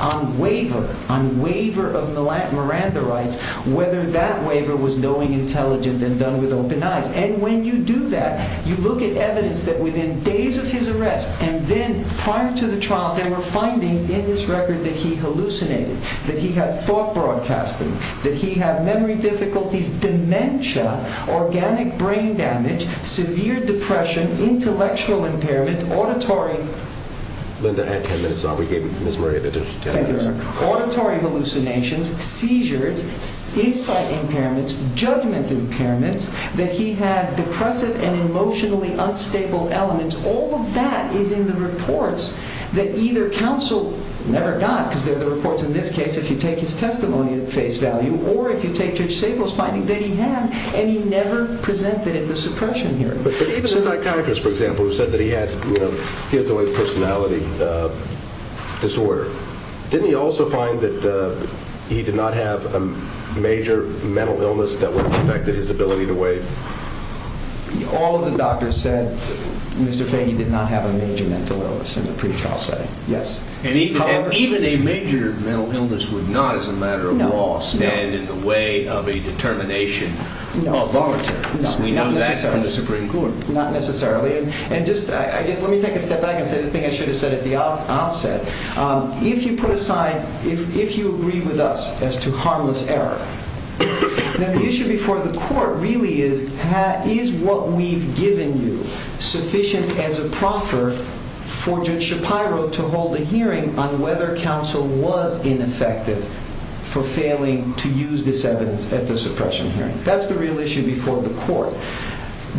on waiver, on waiver of Miranda rights, whether that waiver was knowing, intelligent, and done with open eyes. And when you do that, you look at evidence that within days of his arrest, and then prior to the trial, they were finding in his record that he hallucinated, that he had thought broadcasting, that he had memory difficulties, dementia, organic brain damage, severe depression, intellectual impairment, auditory... Linda, add 10 minutes. We gave Ms. Miranda just 10 minutes. Auditory hallucinations, seizures, insult impairments, judgment impairments, that he had depressive and emotionally unstable elements. All of that is in the reports that either counseled Miranda, because they're the reports in this case, if you take his testimony at face value, or if you take Judge Sable's finding that he had, and he never presented it at the suppression hearing. But even the psychiatrist, for example, who said that he had, you know, his own personality disorder, didn't he also find that he did not have a major mental illness that would have affected his ability to waive? All of the doctors said Mr. Fahey did not have a major mental illness in the pretrial setting, yes. And even a major mental illness would not, as a matter of law, stand in the way of a determination. No, not necessarily. Let me take a step back and say the thing I should have said at the outset. If you put aside, if you agree with us as to harmless error, the issue before the court really is, is what we've given you sufficient as a proffer for Judge Shapiro to hold a hearing on whether counsel was ineffective for failing to use this evidence at the suppression hearing? That's the real issue before the court,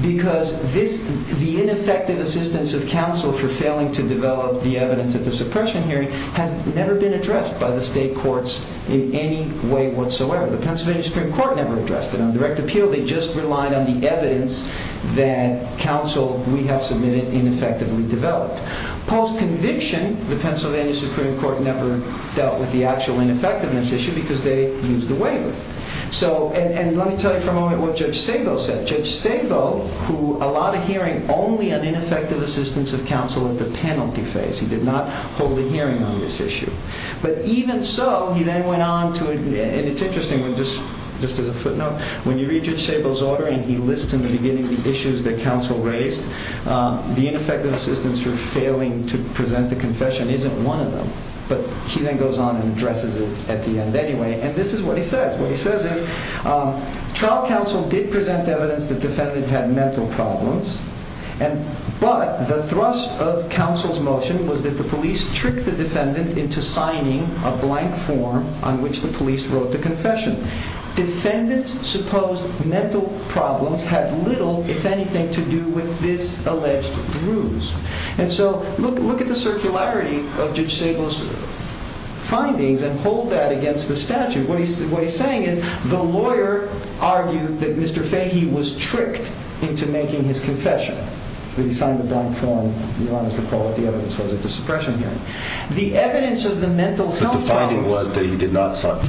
because the ineffective assistance of counsel for failing to develop the evidence at the suppression hearing has never been addressed by the state courts in any way whatsoever. The Pennsylvania Supreme Court never addressed it on direct appeal. They just relied on the evidence that counsel, we have submitted, ineffectively developed. Paul's conviction, the Pennsylvania Supreme Court never dealt with the actual ineffectiveness issue because they used the waiver. So, and let me tell you for a moment what Judge Stengel said. Judge Stengel, who allowed a hearing only on ineffective assistance of counsel at the penalty phase, he did not hold a hearing on this issue. But even so, he then went on to, and it's interesting, just as a footnote, when you read Judge Stengel's order and he lists immediately the issues that counsel raised, the ineffective assistance for failing to present the confession isn't one of them. But he then goes on and addresses it at the end anyway. And this is what he says. What he says is trial counsel did present evidence that defendants had mental problems, but the thrust of counsel's motion was that the police tricked the defendants into signing a blank form on which the police wrote the confession. Defendants' supposed mental problems had little, if anything, to do with this alleged bruise. And so, look at the circularity of Judge Stengel's findings and hold that against the statute. What he's saying is the lawyer argued that Mr. Fahey was tricked into making his confession. When he signed the blank form, he wanted to recall that the evidence was a discretionary. The evidence of the mental health problems... The finding was that he did not sign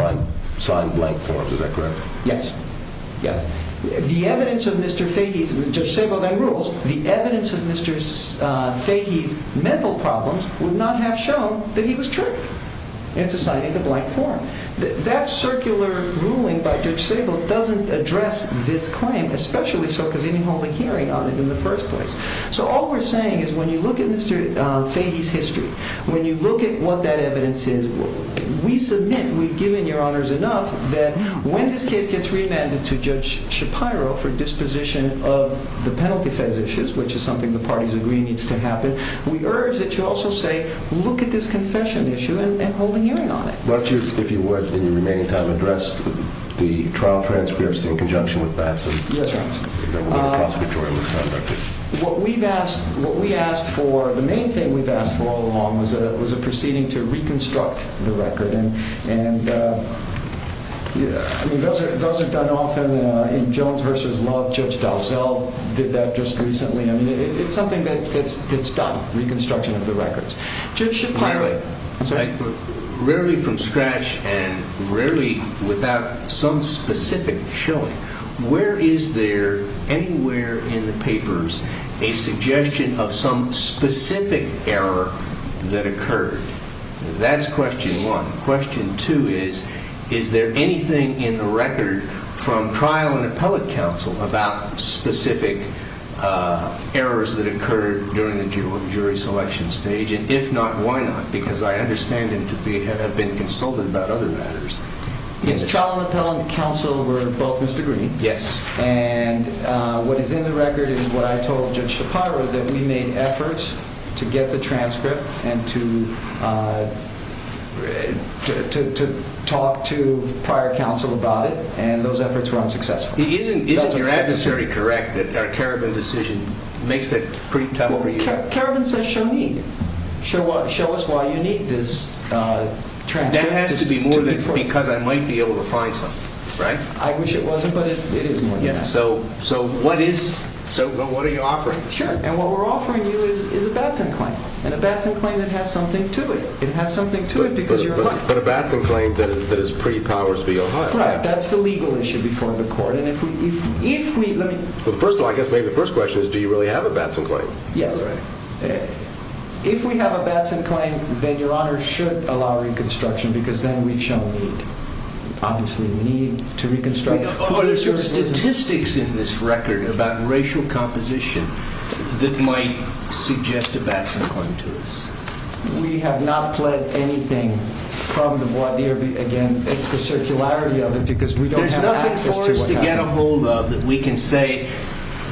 a blank form. Is that correct? Yes. The evidence of Mr. Fahey... Judge Stengel made rules. The evidence of Mr. Fahey's mental problems would not have shown that he was tricked into signing the blank form. That circular ruling by Judge Stengel doesn't address this claim, especially so because he didn't hold a hearing on it in the first place. So, all we're saying is when you look at Mr. Fahey's history, when you look at what that evidence is, we submit, we've given your honors enough, that when this kid gets remanded to Judge Shapiro for disposition of the penalty-feds' issues, which is something the parties agreed needs to happen, we urge that you also say, look at this confession issue and hold a hearing on it. Don't you, if you would, in your remaining time, address the trial transparency in conjunction with Batson? Yes, I do. What we've asked, what we asked for, the main thing we've asked for all along was a proceeding to reconstruct the record. It doesn't come often. In Jones v. Love, Judge Dalzell did that just recently. It's something that gets done, reconstruction of the records. Judge Shapiro, rarely from scratch and rarely without some specific showing, where is there, anywhere in the papers, a suggestion of some specific error that occurred? That's question one. Question two is, is there anything in the record from trial and appellate counsel about specific errors that occurred during the jury selection stage? And if not, why not? Because I understand him to have been consulted about other matters. Yes, trial and appellate counsel were both Mr. Green. Yes. And what is in the record is what I told Judge Shapiro, that we made efforts to get the transcript and to talk to prior counsel about it, and those efforts were unsuccessful. Isn't your adversary correct that our Karabin decision makes that pretty palpable? Karabin says, show me. Show us why you need this transcript. That has to be more than four. Because I might be able to find something. Right? I wish it wasn't, but it is more than that. So what are you offering? Sure. And what we're offering you is a bad thing claim. And a bad thing claim that has something to it. It has something to it because you're wrong. But a bad thing claim that is pretty powerfully or not. Right. That's the legal issue before the court. Well, first of all, I guess maybe the first question is, do you really have a bad thing claim? Yes. If we have a bad thing claim, then Your Honor should allow reconstruction because then we shall lose. Obviously we need to reconstruct. Oh, there's statistics in this record about racial composition that might suggest a bad thing claim to us. We have not pled anything from the voir dire against the circularity of it There's nothing for us to get a hold of that we can say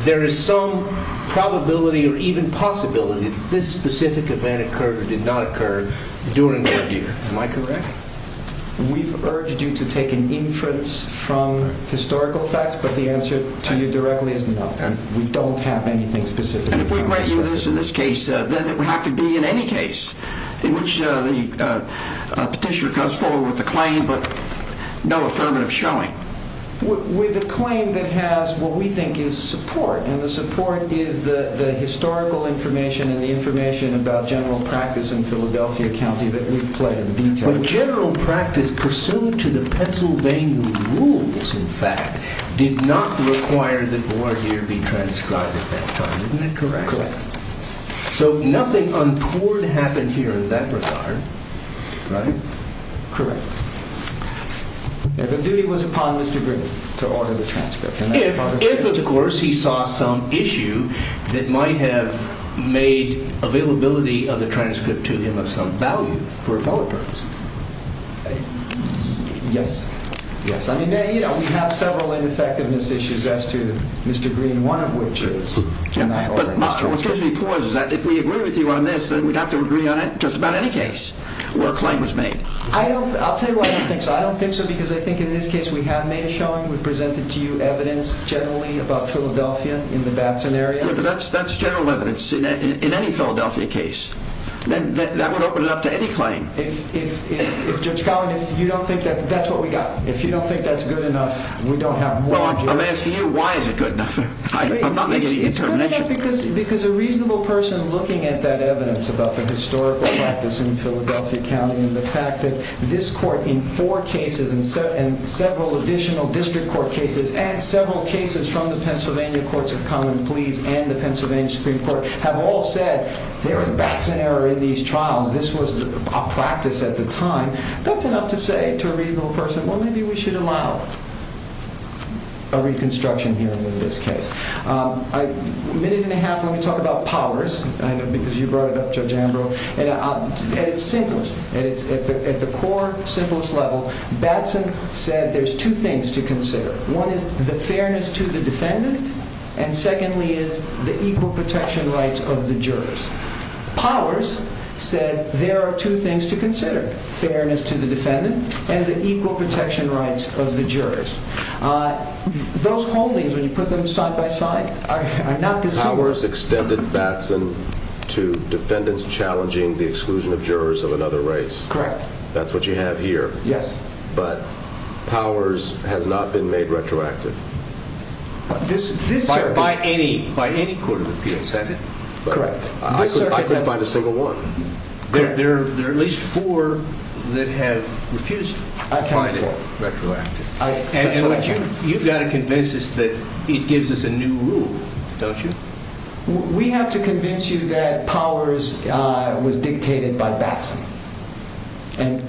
there is some probability or even possibility that this specific event occurred or did not occur during the year. Am I correct? We've urged you to take inference from historical facts, but the answer to you directly is no. We don't have anything specific. And if we write you this in this case, then it would have to be in any case in which the petitioner comes forward with a claim but no affirmative showing. With a claim that has what we think is support, and the support is the historical information and the information about general practice in Philadelphia County that we've pled in detail. But general practice, pursuant to the Pennsylvania rules, in fact, did not require the voir dire be transcribed at that time. Isn't that correct? Correct. So nothing untoward happened here at that time. Pardon? Pardon? Correct. The duty was upon Mr. Green to author the transcript. If, of course, he saw some issue that might have made availability of the transcript to him of some value for his own purpose. Right? Yes. Yes. I mean, you know, we have several ineffectiveness issues as to Mr. Green, one of which is general practice. But my point is that if we agree with you on this, then we have to agree on just about any case where a claim was made. I'll tell you why I think so. I don't think so because I think in this case we have made a challenge. We've presented to you evidence generally about Philadelphia in the Babson area. That's general evidence in any Philadelphia case. That would open it up to any claim. If you're telling us you don't think that's what we got, if you don't think that's good enough, we don't have more evidence. I'm asking you why is it good enough. I'm not making any determination. Because a reasonable person looking at that evidence about the historical practice in Philadelphia County and the fact that this court in four cases and several additional district court cases and several cases from the Pennsylvania Courts of Common Pleas and the Pennsylvania Supreme Court have all said there is a Babson area in these trials. This was a practice at the time. That came out to say to a reasonable person, well, maybe we should allow a reconstruction hearing in this case. A minute and a half, let me talk about powers. I know because you brought it up, Judge Ambrose. And it's simplest. At the core, simplest level, Babson said there's two things to consider. One is the fairness to the defendant. And secondly is the equal protection rights of the jurors. Powers said there are two things to consider, fairness to the defendant and the equal protection rights of the jurors. Those whole things, when you put them side by side, are not the same. Powers extended Babson to defendants challenging the exclusion of jurors of another race. Correct. That's what you have here. Yes. But powers has not been made retroactive. By any court of appeals, has it? Correct. I couldn't find a single one. There are at least four that have refused. Retroactive. You've got to convince us that it gives us a new rule, don't you? We have to convince you that Powers was dictated by Babson. And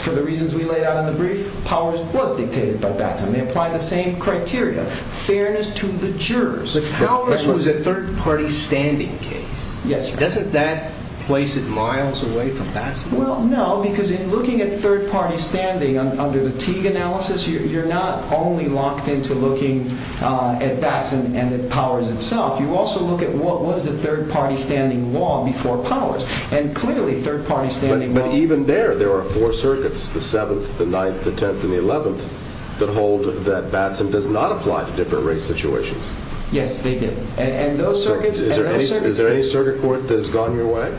for the reasons we laid out in the brief, Powers was dictated by Babson. They apply the same criteria. Fairness to the jurors. Powers was a third party standing case. Yes. Doesn't that place it miles away from Babson? Well, no. Because in looking at third party standing under the Teague analysis, you're not only locked into looking at Babson and at Powers itself. You also look at what was the third party standing law before Powers. And clearly, third party standing law. But even there, there are four circuits, the 7th, the 9th, the 10th, and the 11th, that hold that Babson does not apply to different race situations. Yes, they did. And those circuits and those circuits. Is there any circuit court that's gone your way?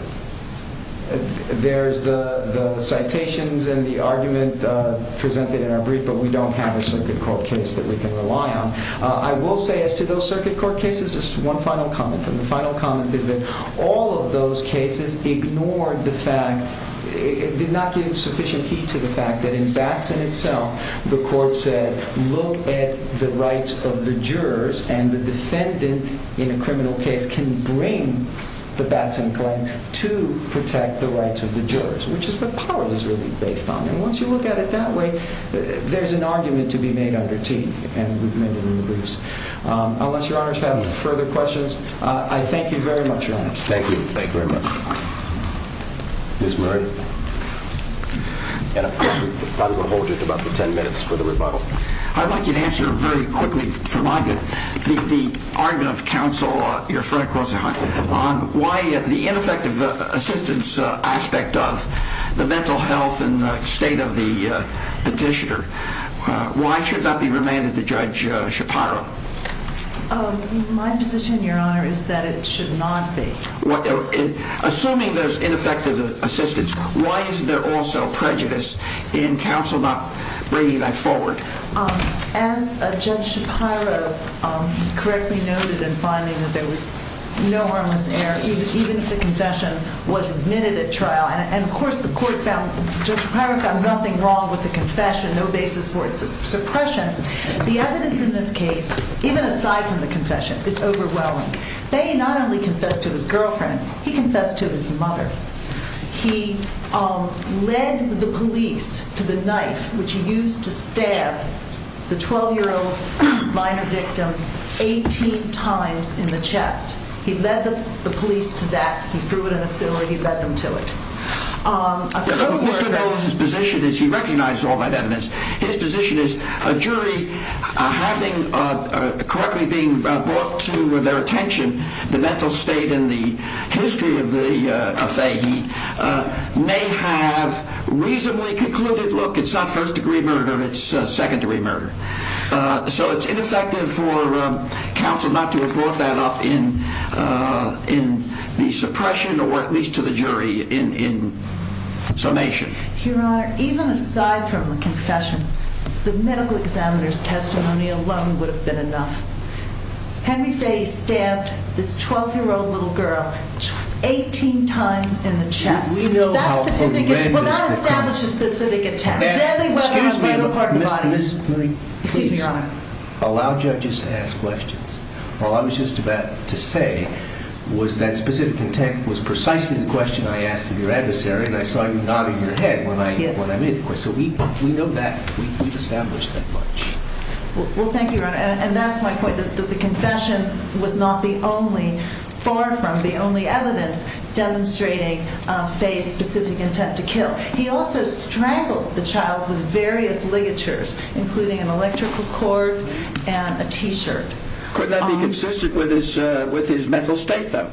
There's the citations and the argument presented in our brief, but we don't have a circuit court case that we can rely on. I will say, as to those circuit court cases, just one final comment. And the final comment is that all of those cases ignored the fact, did not give sufficient heat to the fact that in Babson itself, the court said, look at the rights of the jurors. And the defendant, in a criminal case, can bring the Babson claim to protect the rights of the jurors, which is what Powers was really based on. And once you look at it that way, there's an argument to be made under T. And we've been able to increase. Unless your honors have further questions, I thank you very much, your honors. Thank you. Thank you very much. Ms. Murray? Yes, we probably want to hold you for about 10 minutes for the rebuttal. I'd like to answer very quickly, if I may, the argument of the counsel, your friend, why the ineffective assistance aspect of the mental health and state of the petitioner. Why should that be remanded to Judge Shapiro? My position, your honor, is that it should not be. Assuming there's ineffective assistance, why is there also prejudice in counsel not bringing that forward? As Judge Shapiro correctly noted in filing, there was no harm in error. Even if the concession was admitted at trial. And of course, the court found, Judge Shapiro found nothing wrong with the concession, no basis for suppression. The evidence in this case, even aside from the concession, is overwhelming. He not only confessed to his girlfriend, he confessed to his mother. He led the police to the knife which used to stab the 12-year-old minor victim 18 times in the chest. He led the police to that. He threw it in a cellar. He led them to it. Of course, your honor, his position is, he recognized all that evidence. His position is, a jury, having correctly being brought to their attention the mental state and the history of the Fahy, may have reasonably concluded, look, it's not first degree murder. It's secondary murder. So it's ineffective for counsel not to have brought that up in the suppression, or at least to the jury, in summation. Your honor, even aside from the concession, the medical examiner's testimony alone would have been enough. Can you say he stabbed this 12-year-old little girl 18 times in the chest? We know how illegal it is. That's the thing. We've got to establish a specific attack. Excuse me. Excuse me, your honor. Allow judges to ask questions. All I was just about to say was that specific intent was precisely the question I asked of your adversary, and I saw you nodding your head when I made the question. So we know that. We've established that much. Well, thank you, your honor. And that's my point, that the concession would not be only, far from the only evidence, demonstrating Fahy's specific intent to kill. He also strangled the child with various ligatures, including an electrical cord and a T-shirt. Could that be consistent with his mental state, though?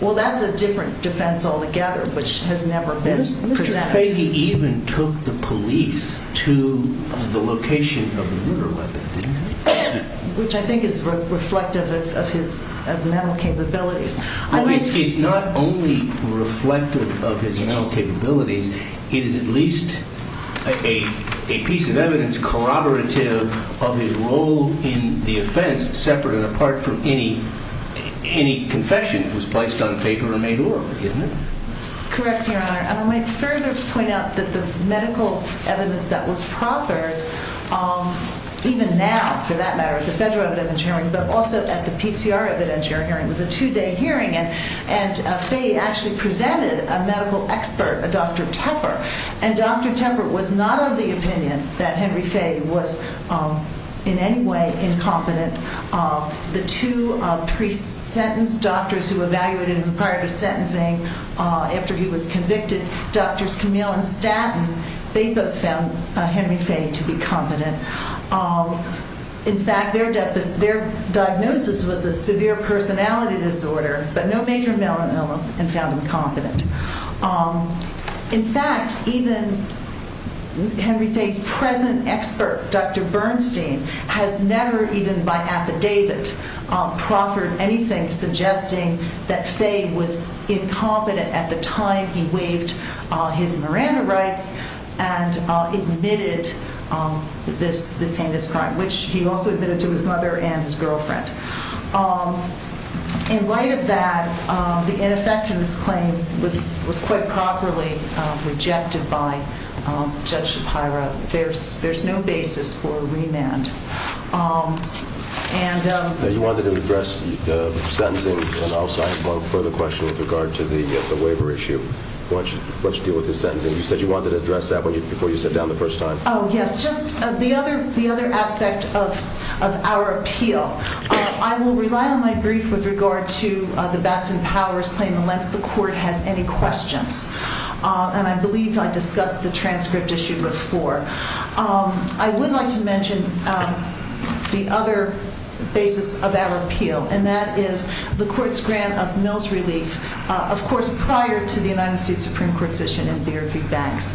Well, that's a different defense altogether, which has never been presented. Mr. Fahy even took the police to the location of the murder weapon. Which I think is reflective of his mental capabilities. I think it's not only reflective of his mental capabilities. It is at least a piece of evidence corroborative of his role in the offense, separate and apart from any confession that was placed on paper and made law. Isn't it? Correct, your honor. I will make certain to point out that the medical evidence that was proffered, even now, for that matter, at the Federal Evidence Hearing, but also at the PCR Evidence Hearing, was a two-day hearing. And Fahy actually presented a medical expert, a Dr. Tepper. And Dr. Tepper was not of the opinion that Henry Fahy was in any way incompetent. The two pre-sentenced doctors who evaluated him prior to sentencing, after he was convicted, Drs. Camille and Statton, they both found Henry Fahy to be competent. In fact, their diagnosis was a severe personality disorder, but no major melanoma, and found him competent. In fact, even Henry Fahy's present expert, Dr. Bernstein, has never, even by affidavit, proffered anything suggesting that Fahy was incompetent at the time he waived his Miranda rights and admitted this heinous crime, which he also admitted to his mother and his girlfriend. In light of that, the ineffectiveness claim was quite properly rejected by Judge Shapiro. There's no basis for remand. You wanted to address the sentencing, and I'll ask one further question with regard to the labor issue. Why don't you deal with the sentencing? You said you wanted to address that before you sat down the first time. Oh, yes. Just the other aspect of our appeal. I will rely on my brief with regard to the Batson Powers claim unless the court has any questions, and I believe I discussed the transgridge issue before. I would like to mention the other basis of our appeal, and that is the court's grant of military leave, of course, prior to the United States Supreme Court decision in Beard v. Banks.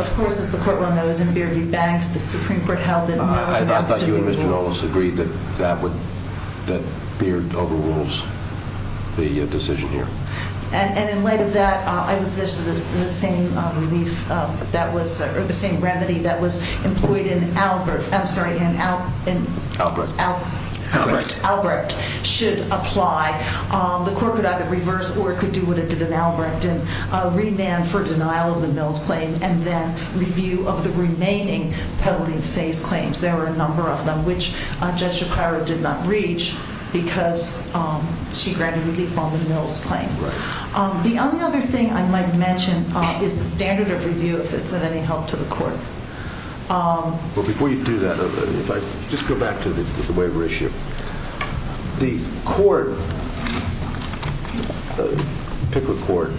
Of course, as the court well knows, in Beard v. Banks, the Supreme Court held that the decision was ineligible. I thought you and Mr. Knowles agreed that Beard overrules the decision here. And in light of that, I would suggest that the same remedy that was employed in Albert should apply. The court could either reverse, or it could do what it did in Albert, and remand for denial of the Knowles claim, and then review of the remaining heavily defamed claims. There are a number of them, which Judge Shapiro did not reach because she granted leave on the Knowles claim. The other thing I might mention is the standard of review, if it's of any help to the court. Before you do that, just go back to the waiver issue. The court, the PICRA court,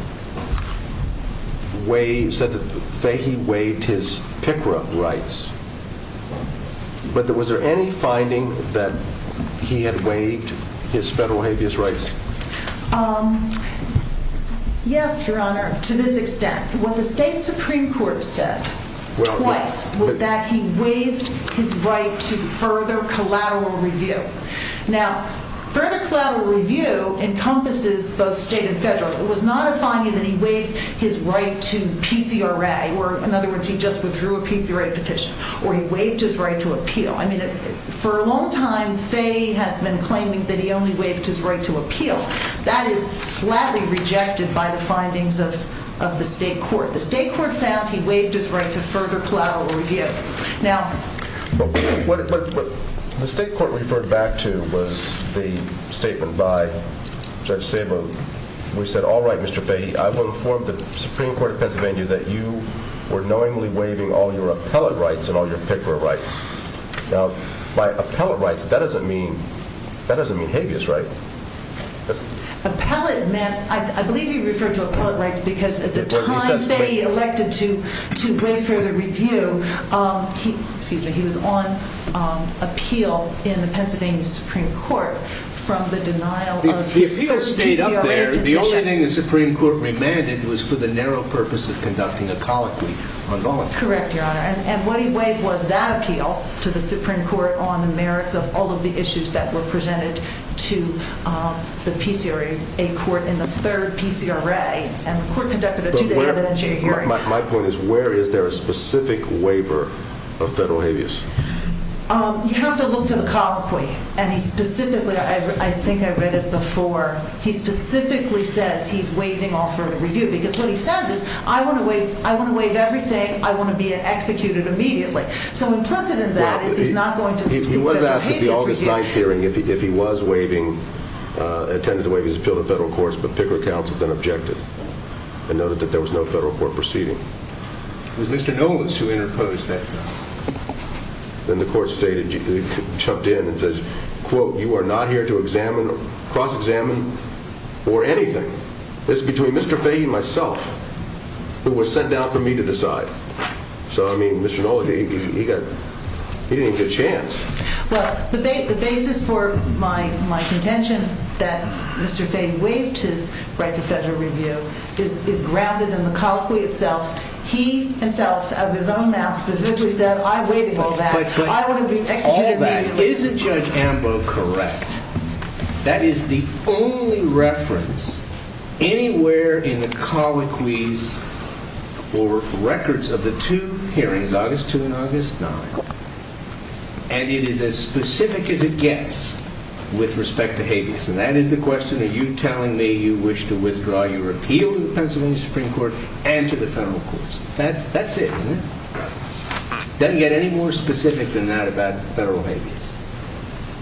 said that he waived his PICRA rights. But was there any finding that he had waived his federal habeas rights? Yes, Your Honor, to this extent. What the state Supreme Court said twice was that he waived his rights to further collateral review. Now, further collateral review encompasses both state and federal. It was not a finding that he waived his right to PICRA, or in other words, he just withdrew a PICRA petition, or he waived his right to appeal. I mean, for a long time, Fay has been claiming that he only waived his right to appeal. That is flatly rejected by the findings of the state court. The state court found he waived his right to further collateral review. What the state court referred back to was the statement by Judge Sabo. He said, all right, Mr. Fahy, I will inform the Supreme Court of Pennsylvania that you were knowingly waiving all your appellate rights and all your PICRA rights. Now, by appellate rights, that doesn't mean habeas rights. Appellate meant, I believe he referred to appellate rights because at the time Fay elected to bring further review, he was on appeal in the Pennsylvania Supreme Court from the denial of his PICRA petition. The appeal stayed up there. The only thing the Supreme Court remanded was for the narrow purpose of conducting a colloquy on violence. Correct, Your Honor. And what he waived was that appeal to the Supreme Court on the merits of all of the issues that were presented to the PCRA, a court in the third PCRA, and the court conducted a two-day evidentiary hearing. My point is, where is there a specific waiver of federal habeas? You have to look to the colloquy. And he specifically, I think I read it before, he specifically said he's waiving alternative review because what he says is, I want to waive everything, I want to be executed immediately. So in terms of that, if he's not going to... He wasn't asked at the August 9th hearing if he was attending to waive his appeal to federal courts, but PICRA counsel then objected and noted that there was no federal court proceeding. It was Mr. Helms who interposed that time. And the court stated, chucked in and says, quote, you are not here to cross-examine or anything. This is between Mr. Fahey and myself, who were sent down for me to decide. So, I mean, Mr. Mullen, he didn't get a chance. Well, the basis for my contention that Mr. Fahey waived his right to federal review is grounded in the colloquy itself. He himself, out of his own mouth, said, I waived all that, I want to be executed immediately. Is Judge Ambrose correct? That is the only reference anywhere in the colloquies or records of the two hearings, August 2nd and August 9th. And it is as specific as it gets with respect to habeas. And that is the question, are you telling me you wish to withdraw your appeal to the Pennsylvania Supreme Court and to the federal courts? That's it, isn't it? Doesn't get any more specific than that about federal habeas.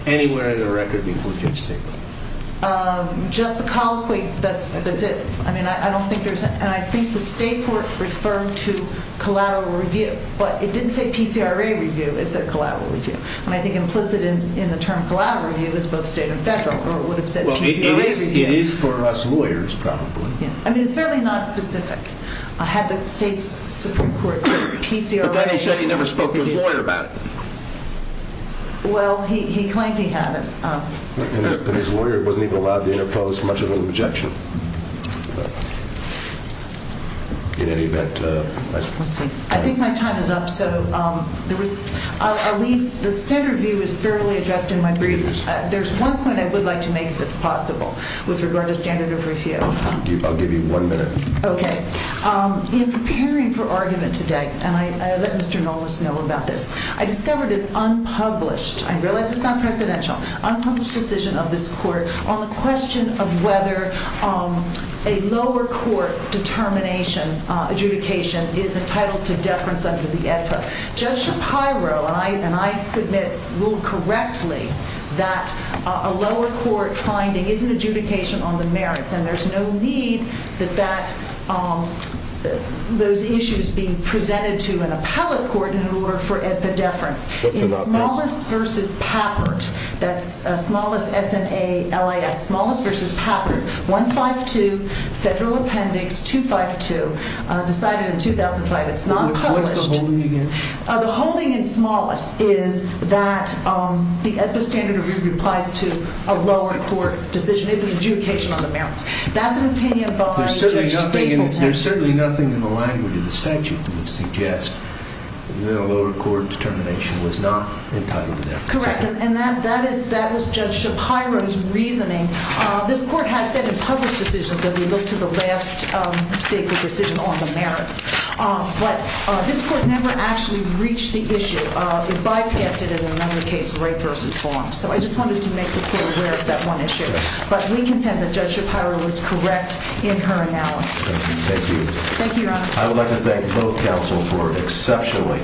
Anywhere in the record that you can think of. Just the colloquy, that's it. I mean, I don't think there's... And I think the state courts referred to collateral review, but it didn't say PCRA review, it said collateral review. And I think implicit in the term collateral review is both state and federal, or it would have said... Well, it may be habeas for us lawyers, probably. I mean, it's fairly not specific. I had the state courts... But Fahey said he never spoke to a lawyer about it. Well, he claims he hasn't. But as a lawyer, he wasn't even allowed to impose much of an objection. In any event... I think my time is up, so... The standard view is fairly addressed in my brief. There's one point I would like to make, if it's possible, with regard to standard of review. I'll give you one minute. Okay. He was preparing for argument today, and I let Mr. Nolas know about this. I discovered it's unpublished. I realize it's not presidential. Unpublished decision of this court on the question of whether a lower court determination, adjudication, is entitled to deference under the ESSA. Judge Shapiro and I submit, ruled correctly, that a lower court finding is an adjudication on the merits, and there's no need that those issues be presented to an appellate court in order for ESSA deference. It's smallest versus patent. That's smallest, S-N-A-L-I-S. Smallest versus patent. 152, federal appendix 252, decided in 2005. It's not published. What's the holding again? The holding in smallest is that the ESSA standard of review applies to a lower court decision. It's an adjudication on the merits. That's an opinion vote. There's certainly nothing in the language of the statute that would suggest that a lower court determination was not entitled to deference. Correct, and that is Judge Shapiro's reasoning. This court has said in public decisions that we look to the last statement of decision on the merits. But this court never actually reached the issue. It bypassed it in another case, rape versus bond. So I just wanted to make the court aware of that one issue. But we contend that Judge Shapiro was correct in her analysis. Thank you. Thank you, Your Honor. I would like to thank both counsel for exceptionally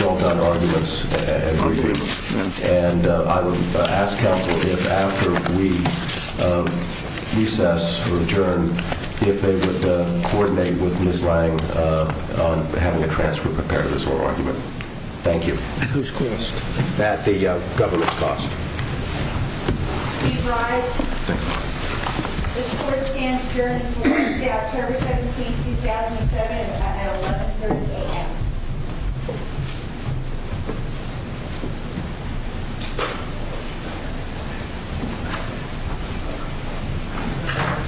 well-done arguments and briefings. And I would ask counsel if after we recess or adjourn, if they would coordinate with Ms. Lange on having a transfer of the parents or argument. Thank you. Who's queen? Matt, the government sponsor. You guys, this court stands adjourned.